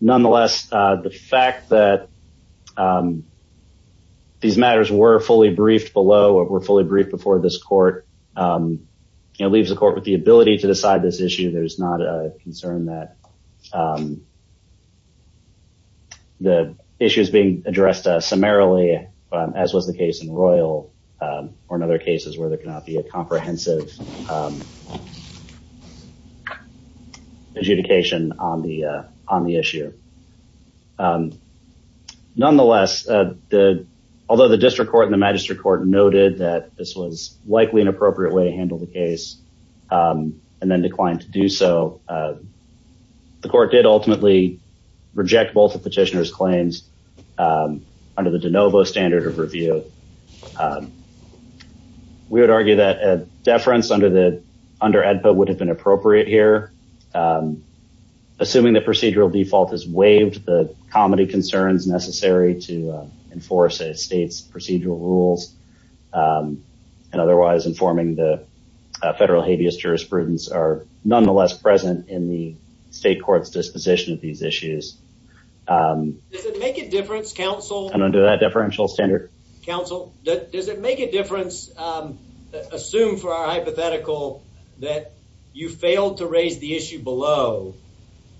Nonetheless, the fact that these matters were fully briefed below or were fully briefed before this court leaves the court with the ability to decide this issue. There's not a concern that. The issue is being addressed summarily, as was the case in Royal or in other cases where there cannot be a comprehensive. Adjudication on the on the issue. Nonetheless, the although the district court and the magistrate court noted that this was likely an appropriate way to handle the case and then declined to do so. The court did ultimately reject both the petitioner's claims under the DeNovo standard of review. We would argue that a deference under the under Edpa would have been appropriate here. Assuming that procedural default is waived, the comedy concerns necessary to enforce a state's procedural rules. And otherwise, informing the federal habeas jurisprudence are nonetheless present in the state court's disposition of these issues. Does it make a difference, counsel? And under that differential standard. Counsel, does it make a difference? Assume for our hypothetical that you failed to raise the issue below.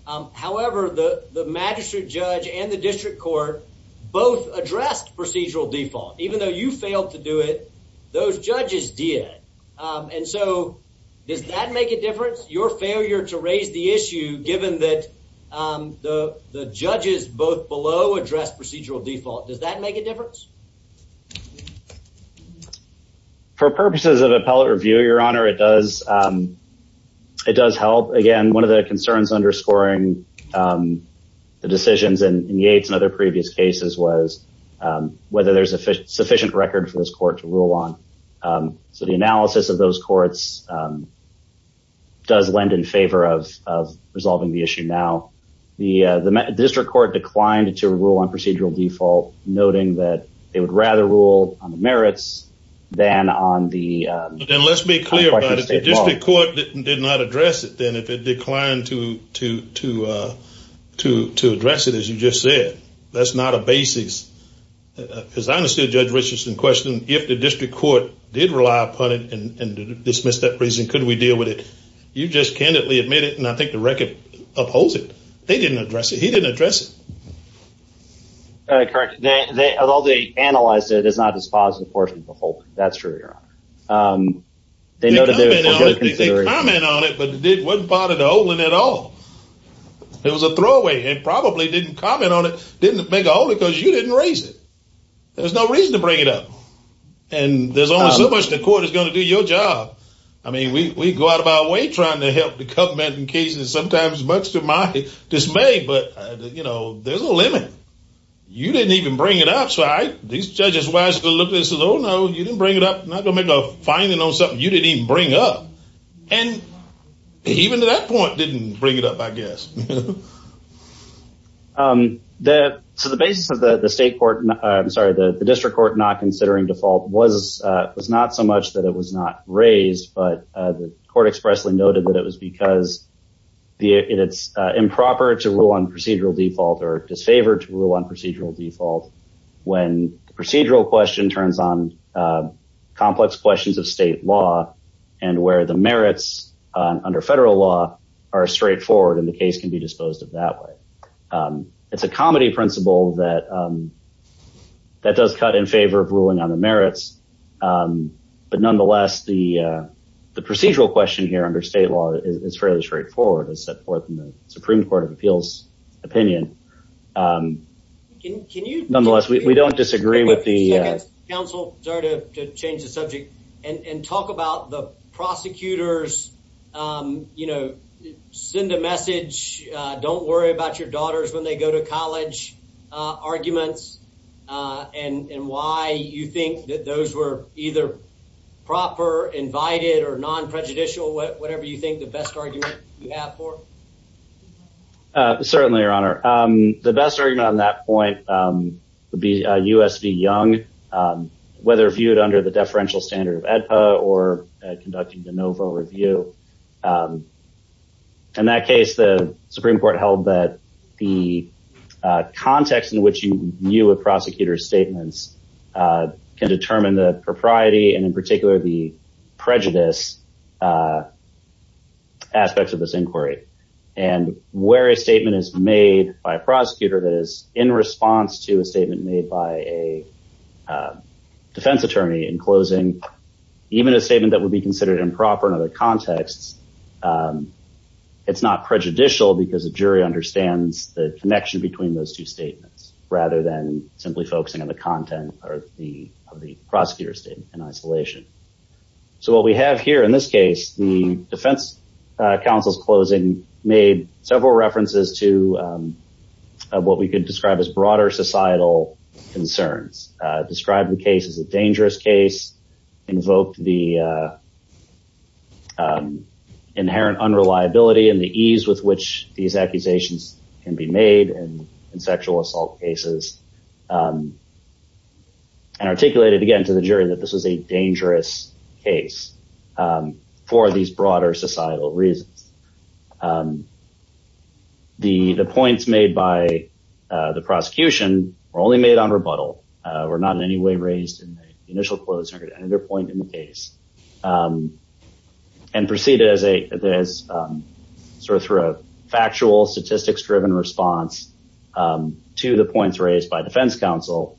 However, the magistrate judge and the district court both addressed procedural default, even though you failed to do it. Those judges did. And so does that make a difference? Your failure to raise the issue, given that the judges both below address procedural default. Does that make a difference? For purposes of appellate review, Your Honor, it does. It does help. Again, one of the concerns underscoring the decisions in Yates and other previous cases was whether there's a sufficient record for this court to rule on. So the analysis of those courts does lend in favor of resolving the issue now. The district court declined to rule on procedural default, noting that they would rather rule on the merits than on the... Then let's be clear about it. If the district court did not address it, then it declined to address it, as you just said. That's not a basis. Because I understood Judge Richardson's question. If the district court did rely upon it and dismissed that provision, could we deal with it? You just candidly admitted it, and I think the record upholds it. They didn't address it. He didn't address it. Correct. As all the panelists said, it's not as positive, of course, as we were hoping. That's true, Your Honor. They didn't comment on it, but it wasn't part of the holding at all. It was a throwaway. They probably didn't comment on it, didn't make a hold of it, because you didn't raise it. There's no reason to bring it up. And there's only so much the court is going to do your job. I mean, we go out of our way trying to help the government in cases that sometimes much to my dismay, but, you know, there's a limit. You didn't even bring it outside. These judges were asking, oh, no, you didn't bring it up. You're not going to make a finding on something you didn't even bring up. And even to that point, didn't bring it up, I guess. To the basis of the state court, I'm sorry, the district court not considering default was not so much that it was not raised, but the court expressly noted that it was because it's improper to rule on procedural default or disfavored to rule on procedural default when procedural question turns on complex questions of state law and where the merits under federal law are straightforward and the case can be disposed of that way. It's a comedy principle that that does cut in favor of ruling on the merits. But nonetheless, the procedural question here under state law is fairly straightforward. Supreme Court of Appeals opinion. Nonetheless, we don't disagree with the council to change the subject and talk about the prosecutors, you know, send a message. Don't worry about your daughters when they go to college arguments and why you think that those were either proper, invited or non prejudicial, whatever you think the best argument you have for. Certainly, Your Honor. The best argument on that point would be USC Young, whether viewed under the deferential standard or conducting the NOVA review. In that case, the Supreme Court held that the context in which you view a prosecutor statements can determine the propriety and in particular the prejudice aspects of this inquiry and where a statement is made by a prosecutor that is in response to a statement made by a defense attorney in closing. Even a statement that would be considered improper in other contexts. It's not prejudicial because the jury understands the connection between those two statements rather than simply focusing on the content of the prosecutor's statement in isolation. So what we have here in this case, the defense counsel's closing made several references to what we could describe as broader societal concerns. Described the case as a dangerous case, invoked the inherent unreliability and the ease with which these accusations can be made in sexual assault cases. And articulated again to the jury that this is a dangerous case for these broader societal reasons. The points made by the prosecution were only made on rebuttal, were not in any way raised in the initial closing or any other point in the case. And proceeded through a factual statistics driven response to the points raised by defense counsel,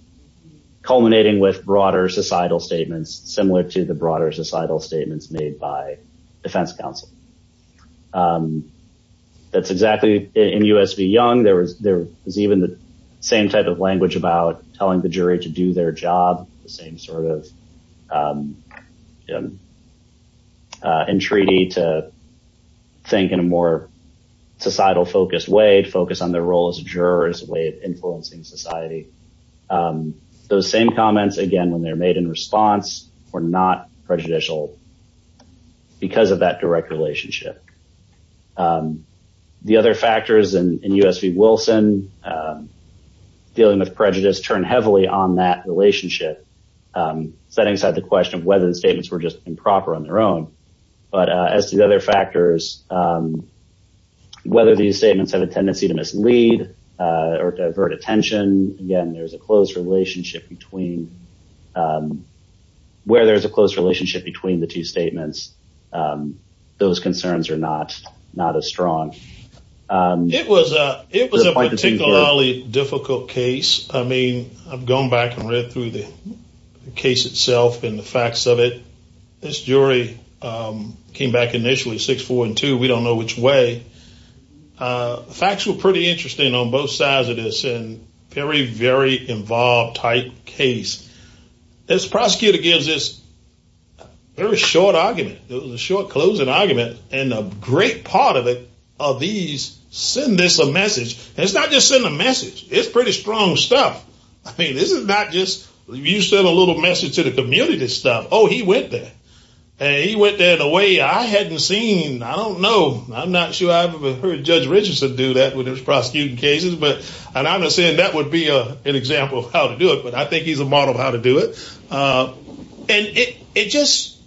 culminating with broader societal statements similar to the broader societal statements made by defense counsel. That's exactly in U.S. v. Young. There was even the same type of language about telling the jury to do their job. The same sort of entreaty to think in a more societal focused way, focus on their role as a juror as a way of influencing society. Those same comments, again, when they're made in response, were not prejudicial because of that direct relationship. The other factors in U.S. v. Wilson, dealing with prejudice, turned heavily on that relationship. Setting aside the question of whether the statements were just improper on their own. But as to the other factors, whether these statements have a tendency to mislead or divert attention, again, there's a close relationship between, where there's a close relationship between the two statements. Those concerns are not as strong. It was a particularly difficult case. I mean, I've gone back and read through the case itself and the facts of it. This jury came back initially, 6-4-2, we don't know which way. Facts were pretty interesting on both sides of this and very, very involved type case. This prosecutor gives this very short argument. It was a short closing argument and a great part of it are these, send us a message. And it's not just send a message. It's pretty strong stuff. I mean, this is not just you send a little message to the community and stuff. Oh, he went there. And he went there in a way I hadn't seen. I don't know. I'm not sure I've ever heard Judge Richardson do that with his prosecuting cases. And I'm not saying that would be an example of how to do it, but I think he's a model of how to do it. And it just,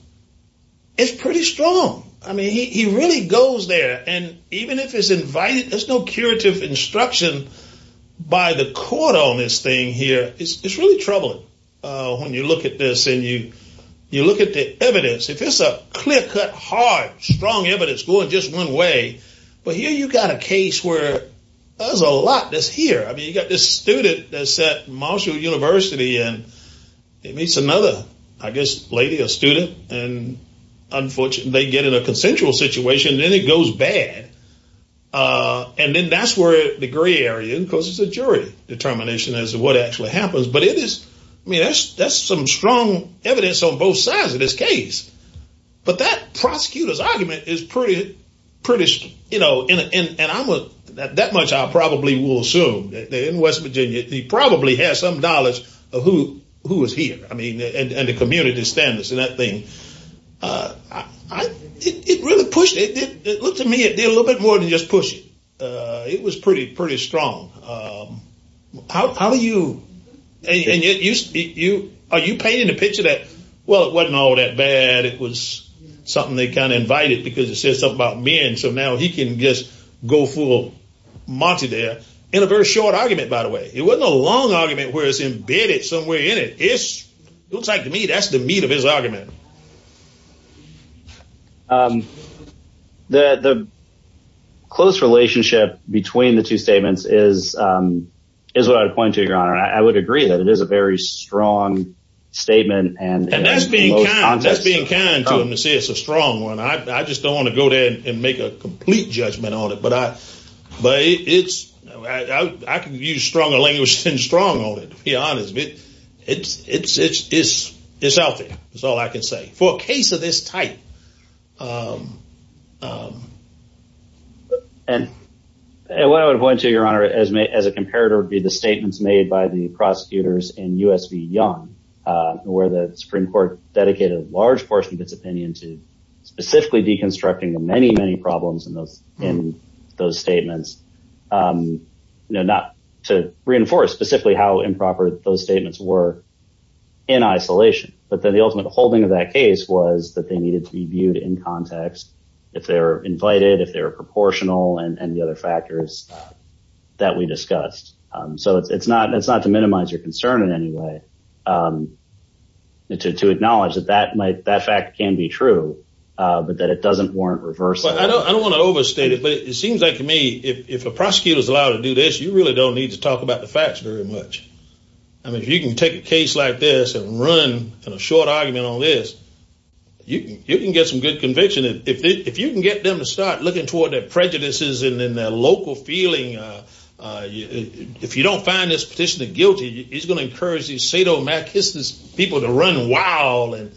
it's pretty strong. I mean, he really goes there. And even if it's invited, there's no curative instruction by the court on this thing here. It's really troubling when you look at this and you look at the evidence. If it's a clear-cut, hard, strong evidence going just one way, but here you've got a case where there's a lot that's here. I mean, you've got this student that's at Marshall University and he meets another, I guess, lady, a student, and unfortunately they get in a consensual situation and then it goes bad. And then that's where the gray area, because it's a jury determination as to what actually happens. But it is, I mean, that's some strong evidence on both sides of this case. But that prosecutor's argument is pretty, you know, and that much I probably will assume. In West Virginia, he probably has some knowledge of who is here, I mean, and the community standards and that thing. It really pushed it. It looked to me it did a little bit more than just push it. It was pretty strong. How do you, are you painting a picture that, well, it wasn't all that bad. It was something they kind of invited because it said something about men, so now he can just go full Monty there. In a very short argument, by the way. It wasn't a long argument where it's embedded somewhere in it. It looks like to me that's the meat of his argument. The close relationship between the two statements is what I would point to, Your Honor. I would agree that it is a very strong statement. And that's being kind to him to say it's a strong one. I just don't want to go there and make a complete judgment on it, but I can use stronger language than strong on it, to be honest. It's, it's, it's, it's healthy. It's all I can say for a case of this type. And what I would point to, Your Honor, as a comparator would be the statements made by the prosecutors in U.S. v. Young, where the Supreme Court dedicated a large portion of its opinion to specifically deconstructing the many, many problems in those statements. You know, not to reinforce specifically how improper those statements were in isolation. But then the ultimate holding of that case was that they needed to be viewed in context. If they're invited, if they're proportional and the other factors that we discussed. So it's not it's not to minimize your concern in any way. It's a to acknowledge that that might that fact can be true, but that it doesn't warrant reverse. I don't want to overstate it, but it seems like to me, if a prosecutor is allowed to do this, you really don't need to talk about the facts very much. I mean, if you can take a case like this and run a short argument on this, you can get some good conviction. If you can get them to start looking toward their prejudices and then their local feeling, if you don't find this petitioner guilty, he's going to encourage these sadomasochistic people to run wild. And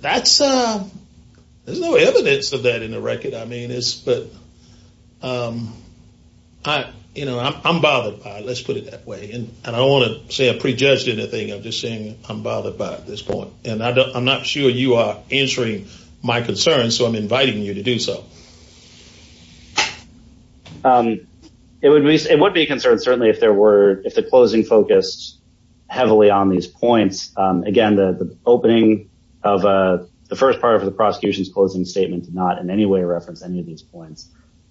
that's no evidence of that in the record. I mean, it's but I, you know, I'm bothered by let's put it that way. And I don't want to say I prejudged anything. I'm just saying I'm bothered by this point. And I'm not sure you are answering my concerns. So I'm inviting you to do so. It would be it would be a concern, certainly if there were if the closing focus heavily on these points. Again, the opening of the first part of the prosecution's closing statements, not in any way reference any of these points.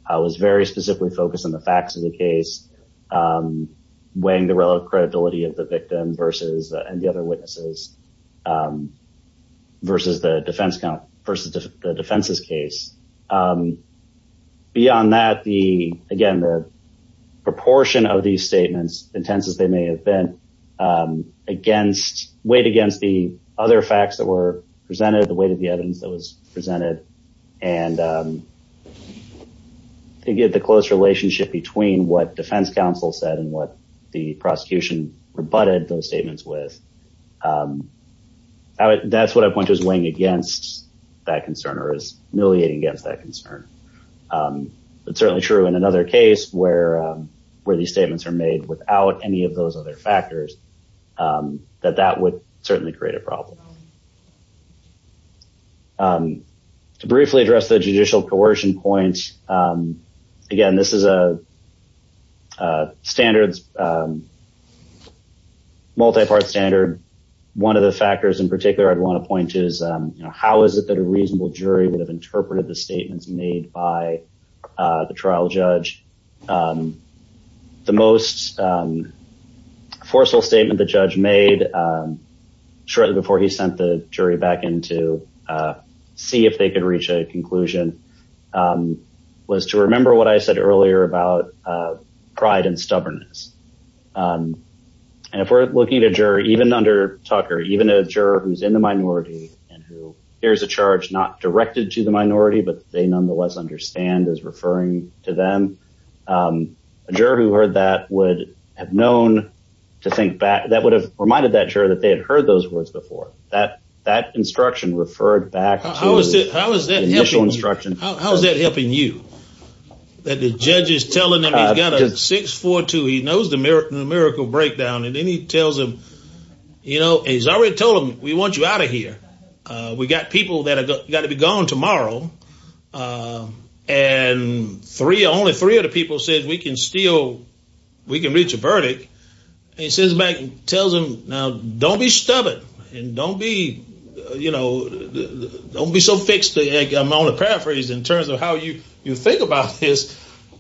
I was very specifically focused on the facts of the case, weighing the credibility of the victim versus the other witnesses versus the defense versus the defense's case. Beyond that, the again, the proportion of these statements, intense as they may have been against weight against the other facts that were presented, the way to get those presented. And to get the close relationship between what defense counsel said and what the prosecution rebutted those statements with. That's what I want is weighing against that concern or is miliating against that concern. It's certainly true in another case where where these statements are made without any of those other factors that that would certainly create a problem. To briefly address the judicial coercion points again, this is a standard. Multi-part standard. One of the factors in particular I'd want to point to is how is it that a reasonable jury would have interpreted the statements made by the trial judge? The most forceful statement the judge made shortly before he sent the jury back in to see if they could reach a conclusion was to remember what I said earlier about pride and stubbornness. And if we're looking at a jury, even under Tucker, even a juror who's in the minority and who hears a charge not directed to the minority, but they nonetheless understand is referring to them. A juror who heard that would have known to think back. That would have reminded that juror that they had heard those words before. That instruction referred back to the initial instruction. How is that helping you? That the judge is telling them he's got a 6-4-2, he knows the numerical breakdown, and then he tells them, you know, he's already told them, we want you out of here. We've got people that have got to be gone tomorrow. And only three of the people said we can reach a verdict. He sends them back and tells them, now, don't be stubborn and don't be, you know, don't be so fixed. I'm only paraphrasing in terms of how you think about this.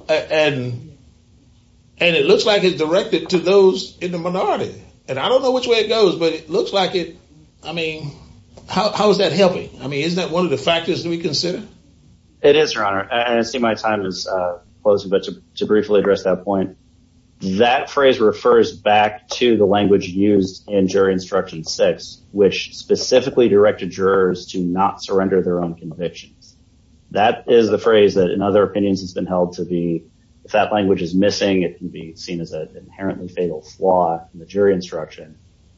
And it looks like it's directed to those in the minority. And I don't know which way it goes, but it looks like it's, I mean, how is that helping? I mean, isn't that one of the factors to be considered? It is, Your Honor. And I see my time has closed, but to briefly address that point, that phrase refers back to the language used in jury instruction six, which specifically directed jurors to not surrender their own convictions. That is the phrase that, in other opinions, has been held to be, if that language is missing, it can be seen as an inherently fatal flaw in the jury instruction.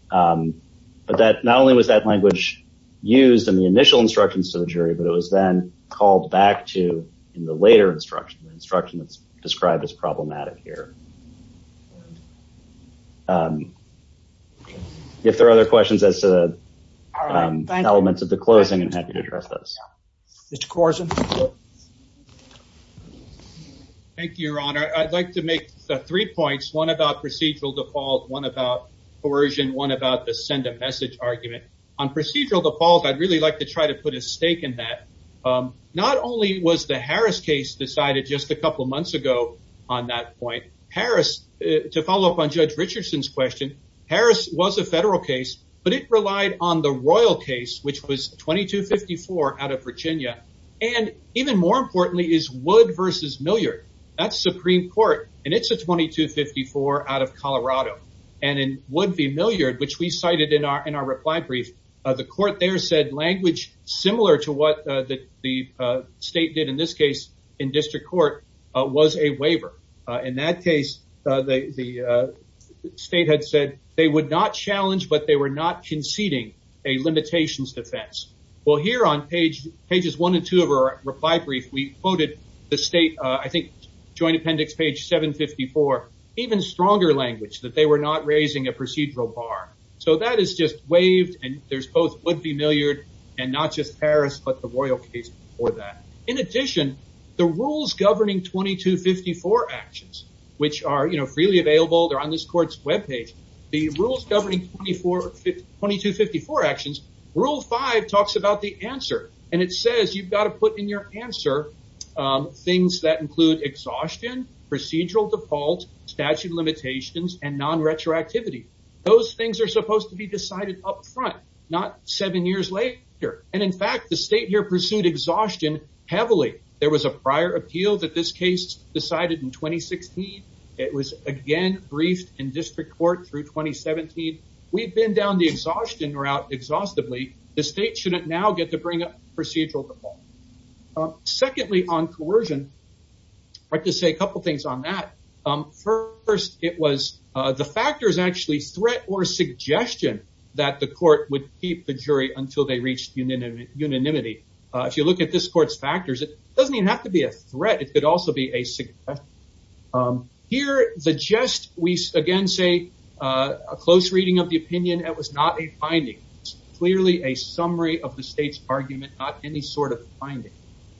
But that not only was that language used in the initial instructions to the jury, but it was then called back to the later instruction instruction described as problematic here. If there are other questions as to the elements of the closing address, Mr. Carson. Thank you, Your Honor. I'd like to make three points, one about procedural default, one about coercion, one about the send a message argument on procedural default. I'd really like to try to put a stake in that. Not only was the Harris case decided just a couple of months ago on that point, Harris to follow up on Judge Richardson's question. Harris was a federal case, but it relied on the royal case, which was 2254 out of Virginia. And even more importantly, is Wood v. Milliard. That's Supreme Court, and it's a 2254 out of Colorado. And in Wood v. Milliard, which we cited in our reply brief, the court there said language similar to what the state did in this case in district court was a waiver. In that case, the state had said they would not challenge, but they were not conceding a limitations defense. Well, here on pages one and two of our reply brief, we quoted the state, I think, Joint Appendix page 754, even stronger language that they were not raising a procedural bar. So that is just waived, and there's both Wood v. Milliard and not just Harris, but the royal case for that. In addition, the rules governing 2254 actions, which are freely available, they're on this court's webpage. The rules governing 2254 actions, Rule 5 talks about the answer, and it says you've got to put in your answer things that include exhaustion, procedural default, statute limitations, and non-retroactivity. Those things are supposed to be decided up front, not seven years later. And, in fact, the state here pursued exhaustion heavily. There was a prior appeal that this case decided in 2016. It was, again, briefed in district court through 2017. We've been down the exhaustion route exhaustively. The state shouldn't now get to bring up procedural default. Secondly, on coercion, I'd like to say a couple things on that. First, it was the factors actually threat or suggestion that the court would keep the jury until they reached unanimity. If you look at this court's factors, it doesn't even have to be a threat. It could also be a suggestion. Here, the jest, we again say a close reading of the opinion, that was not a finding. Clearly a summary of the state's argument, not any sort of finding.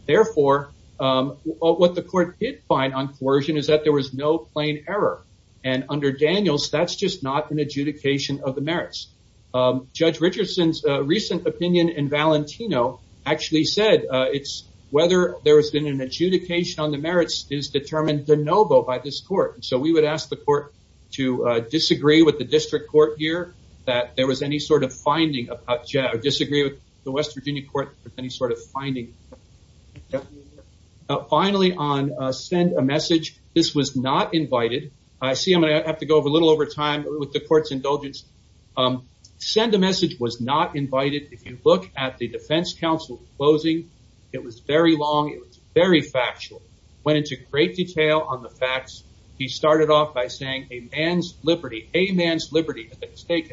Therefore, what the court did find on coercion is that there was no plain error. And under Daniels, that's just not an adjudication of the merits. Judge Richardson's recent opinion in Valentino actually said it's whether there has been an adjudication on the merits is determined de novo by this court. So we would ask the court to disagree with the district court here that there was any sort of finding, disagree with the West Virginia court with any sort of finding. Finally, on send a message, this was not invited. I see I'm going to have to go over a little over time with the court's indulgence. Send a message was not invited. If you look at the defense counsel's closing, it was very long. It was very factual. Went into great detail on the facts. He started off by saying a man's liberty, a man's liberty to take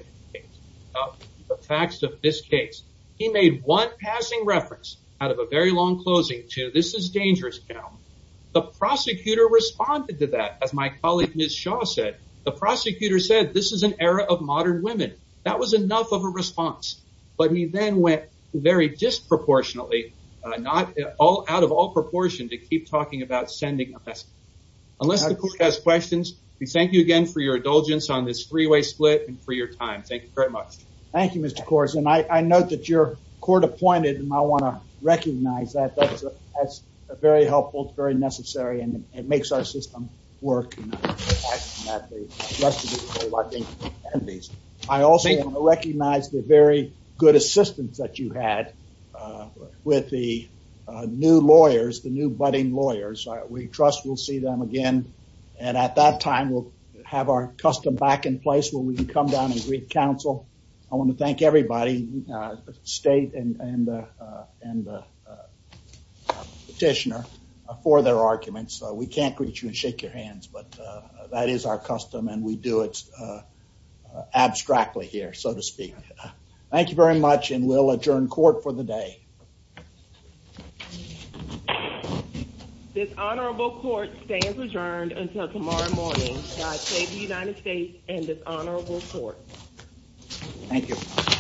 the facts of this case. He made one passing reference out of a very long closing to this is dangerous. The prosecutor responded to that. As my colleague, Ms. Shaw said, the prosecutor said this is an era of modern women. That was enough of a response. But he then went very disproportionately, not all out of all proportion to keep talking about sending a message. Unless the court has questions. We thank you again for your indulgence on this three way split and for your time. Thank you very much. Thank you, Mr. Coors. And I know that your court appointed and I want to recognize that. That's very helpful. Very necessary. And it makes our system work. I also recognize the very good assistance that you had with the new lawyers, the new budding lawyers. We trust we'll see them again. And at that time, we'll have our custom back in place where we can come down and read counsel. I want to thank everybody, the state and the petitioner for their arguments. We can't reach you and shake your hands, but that is our custom and we do it abstractly here, so to speak. Thank you very much. And we'll adjourn court for the day. Dishonorable court stands adjourned until tomorrow morning. God save the United States and dishonorable court. Thank you.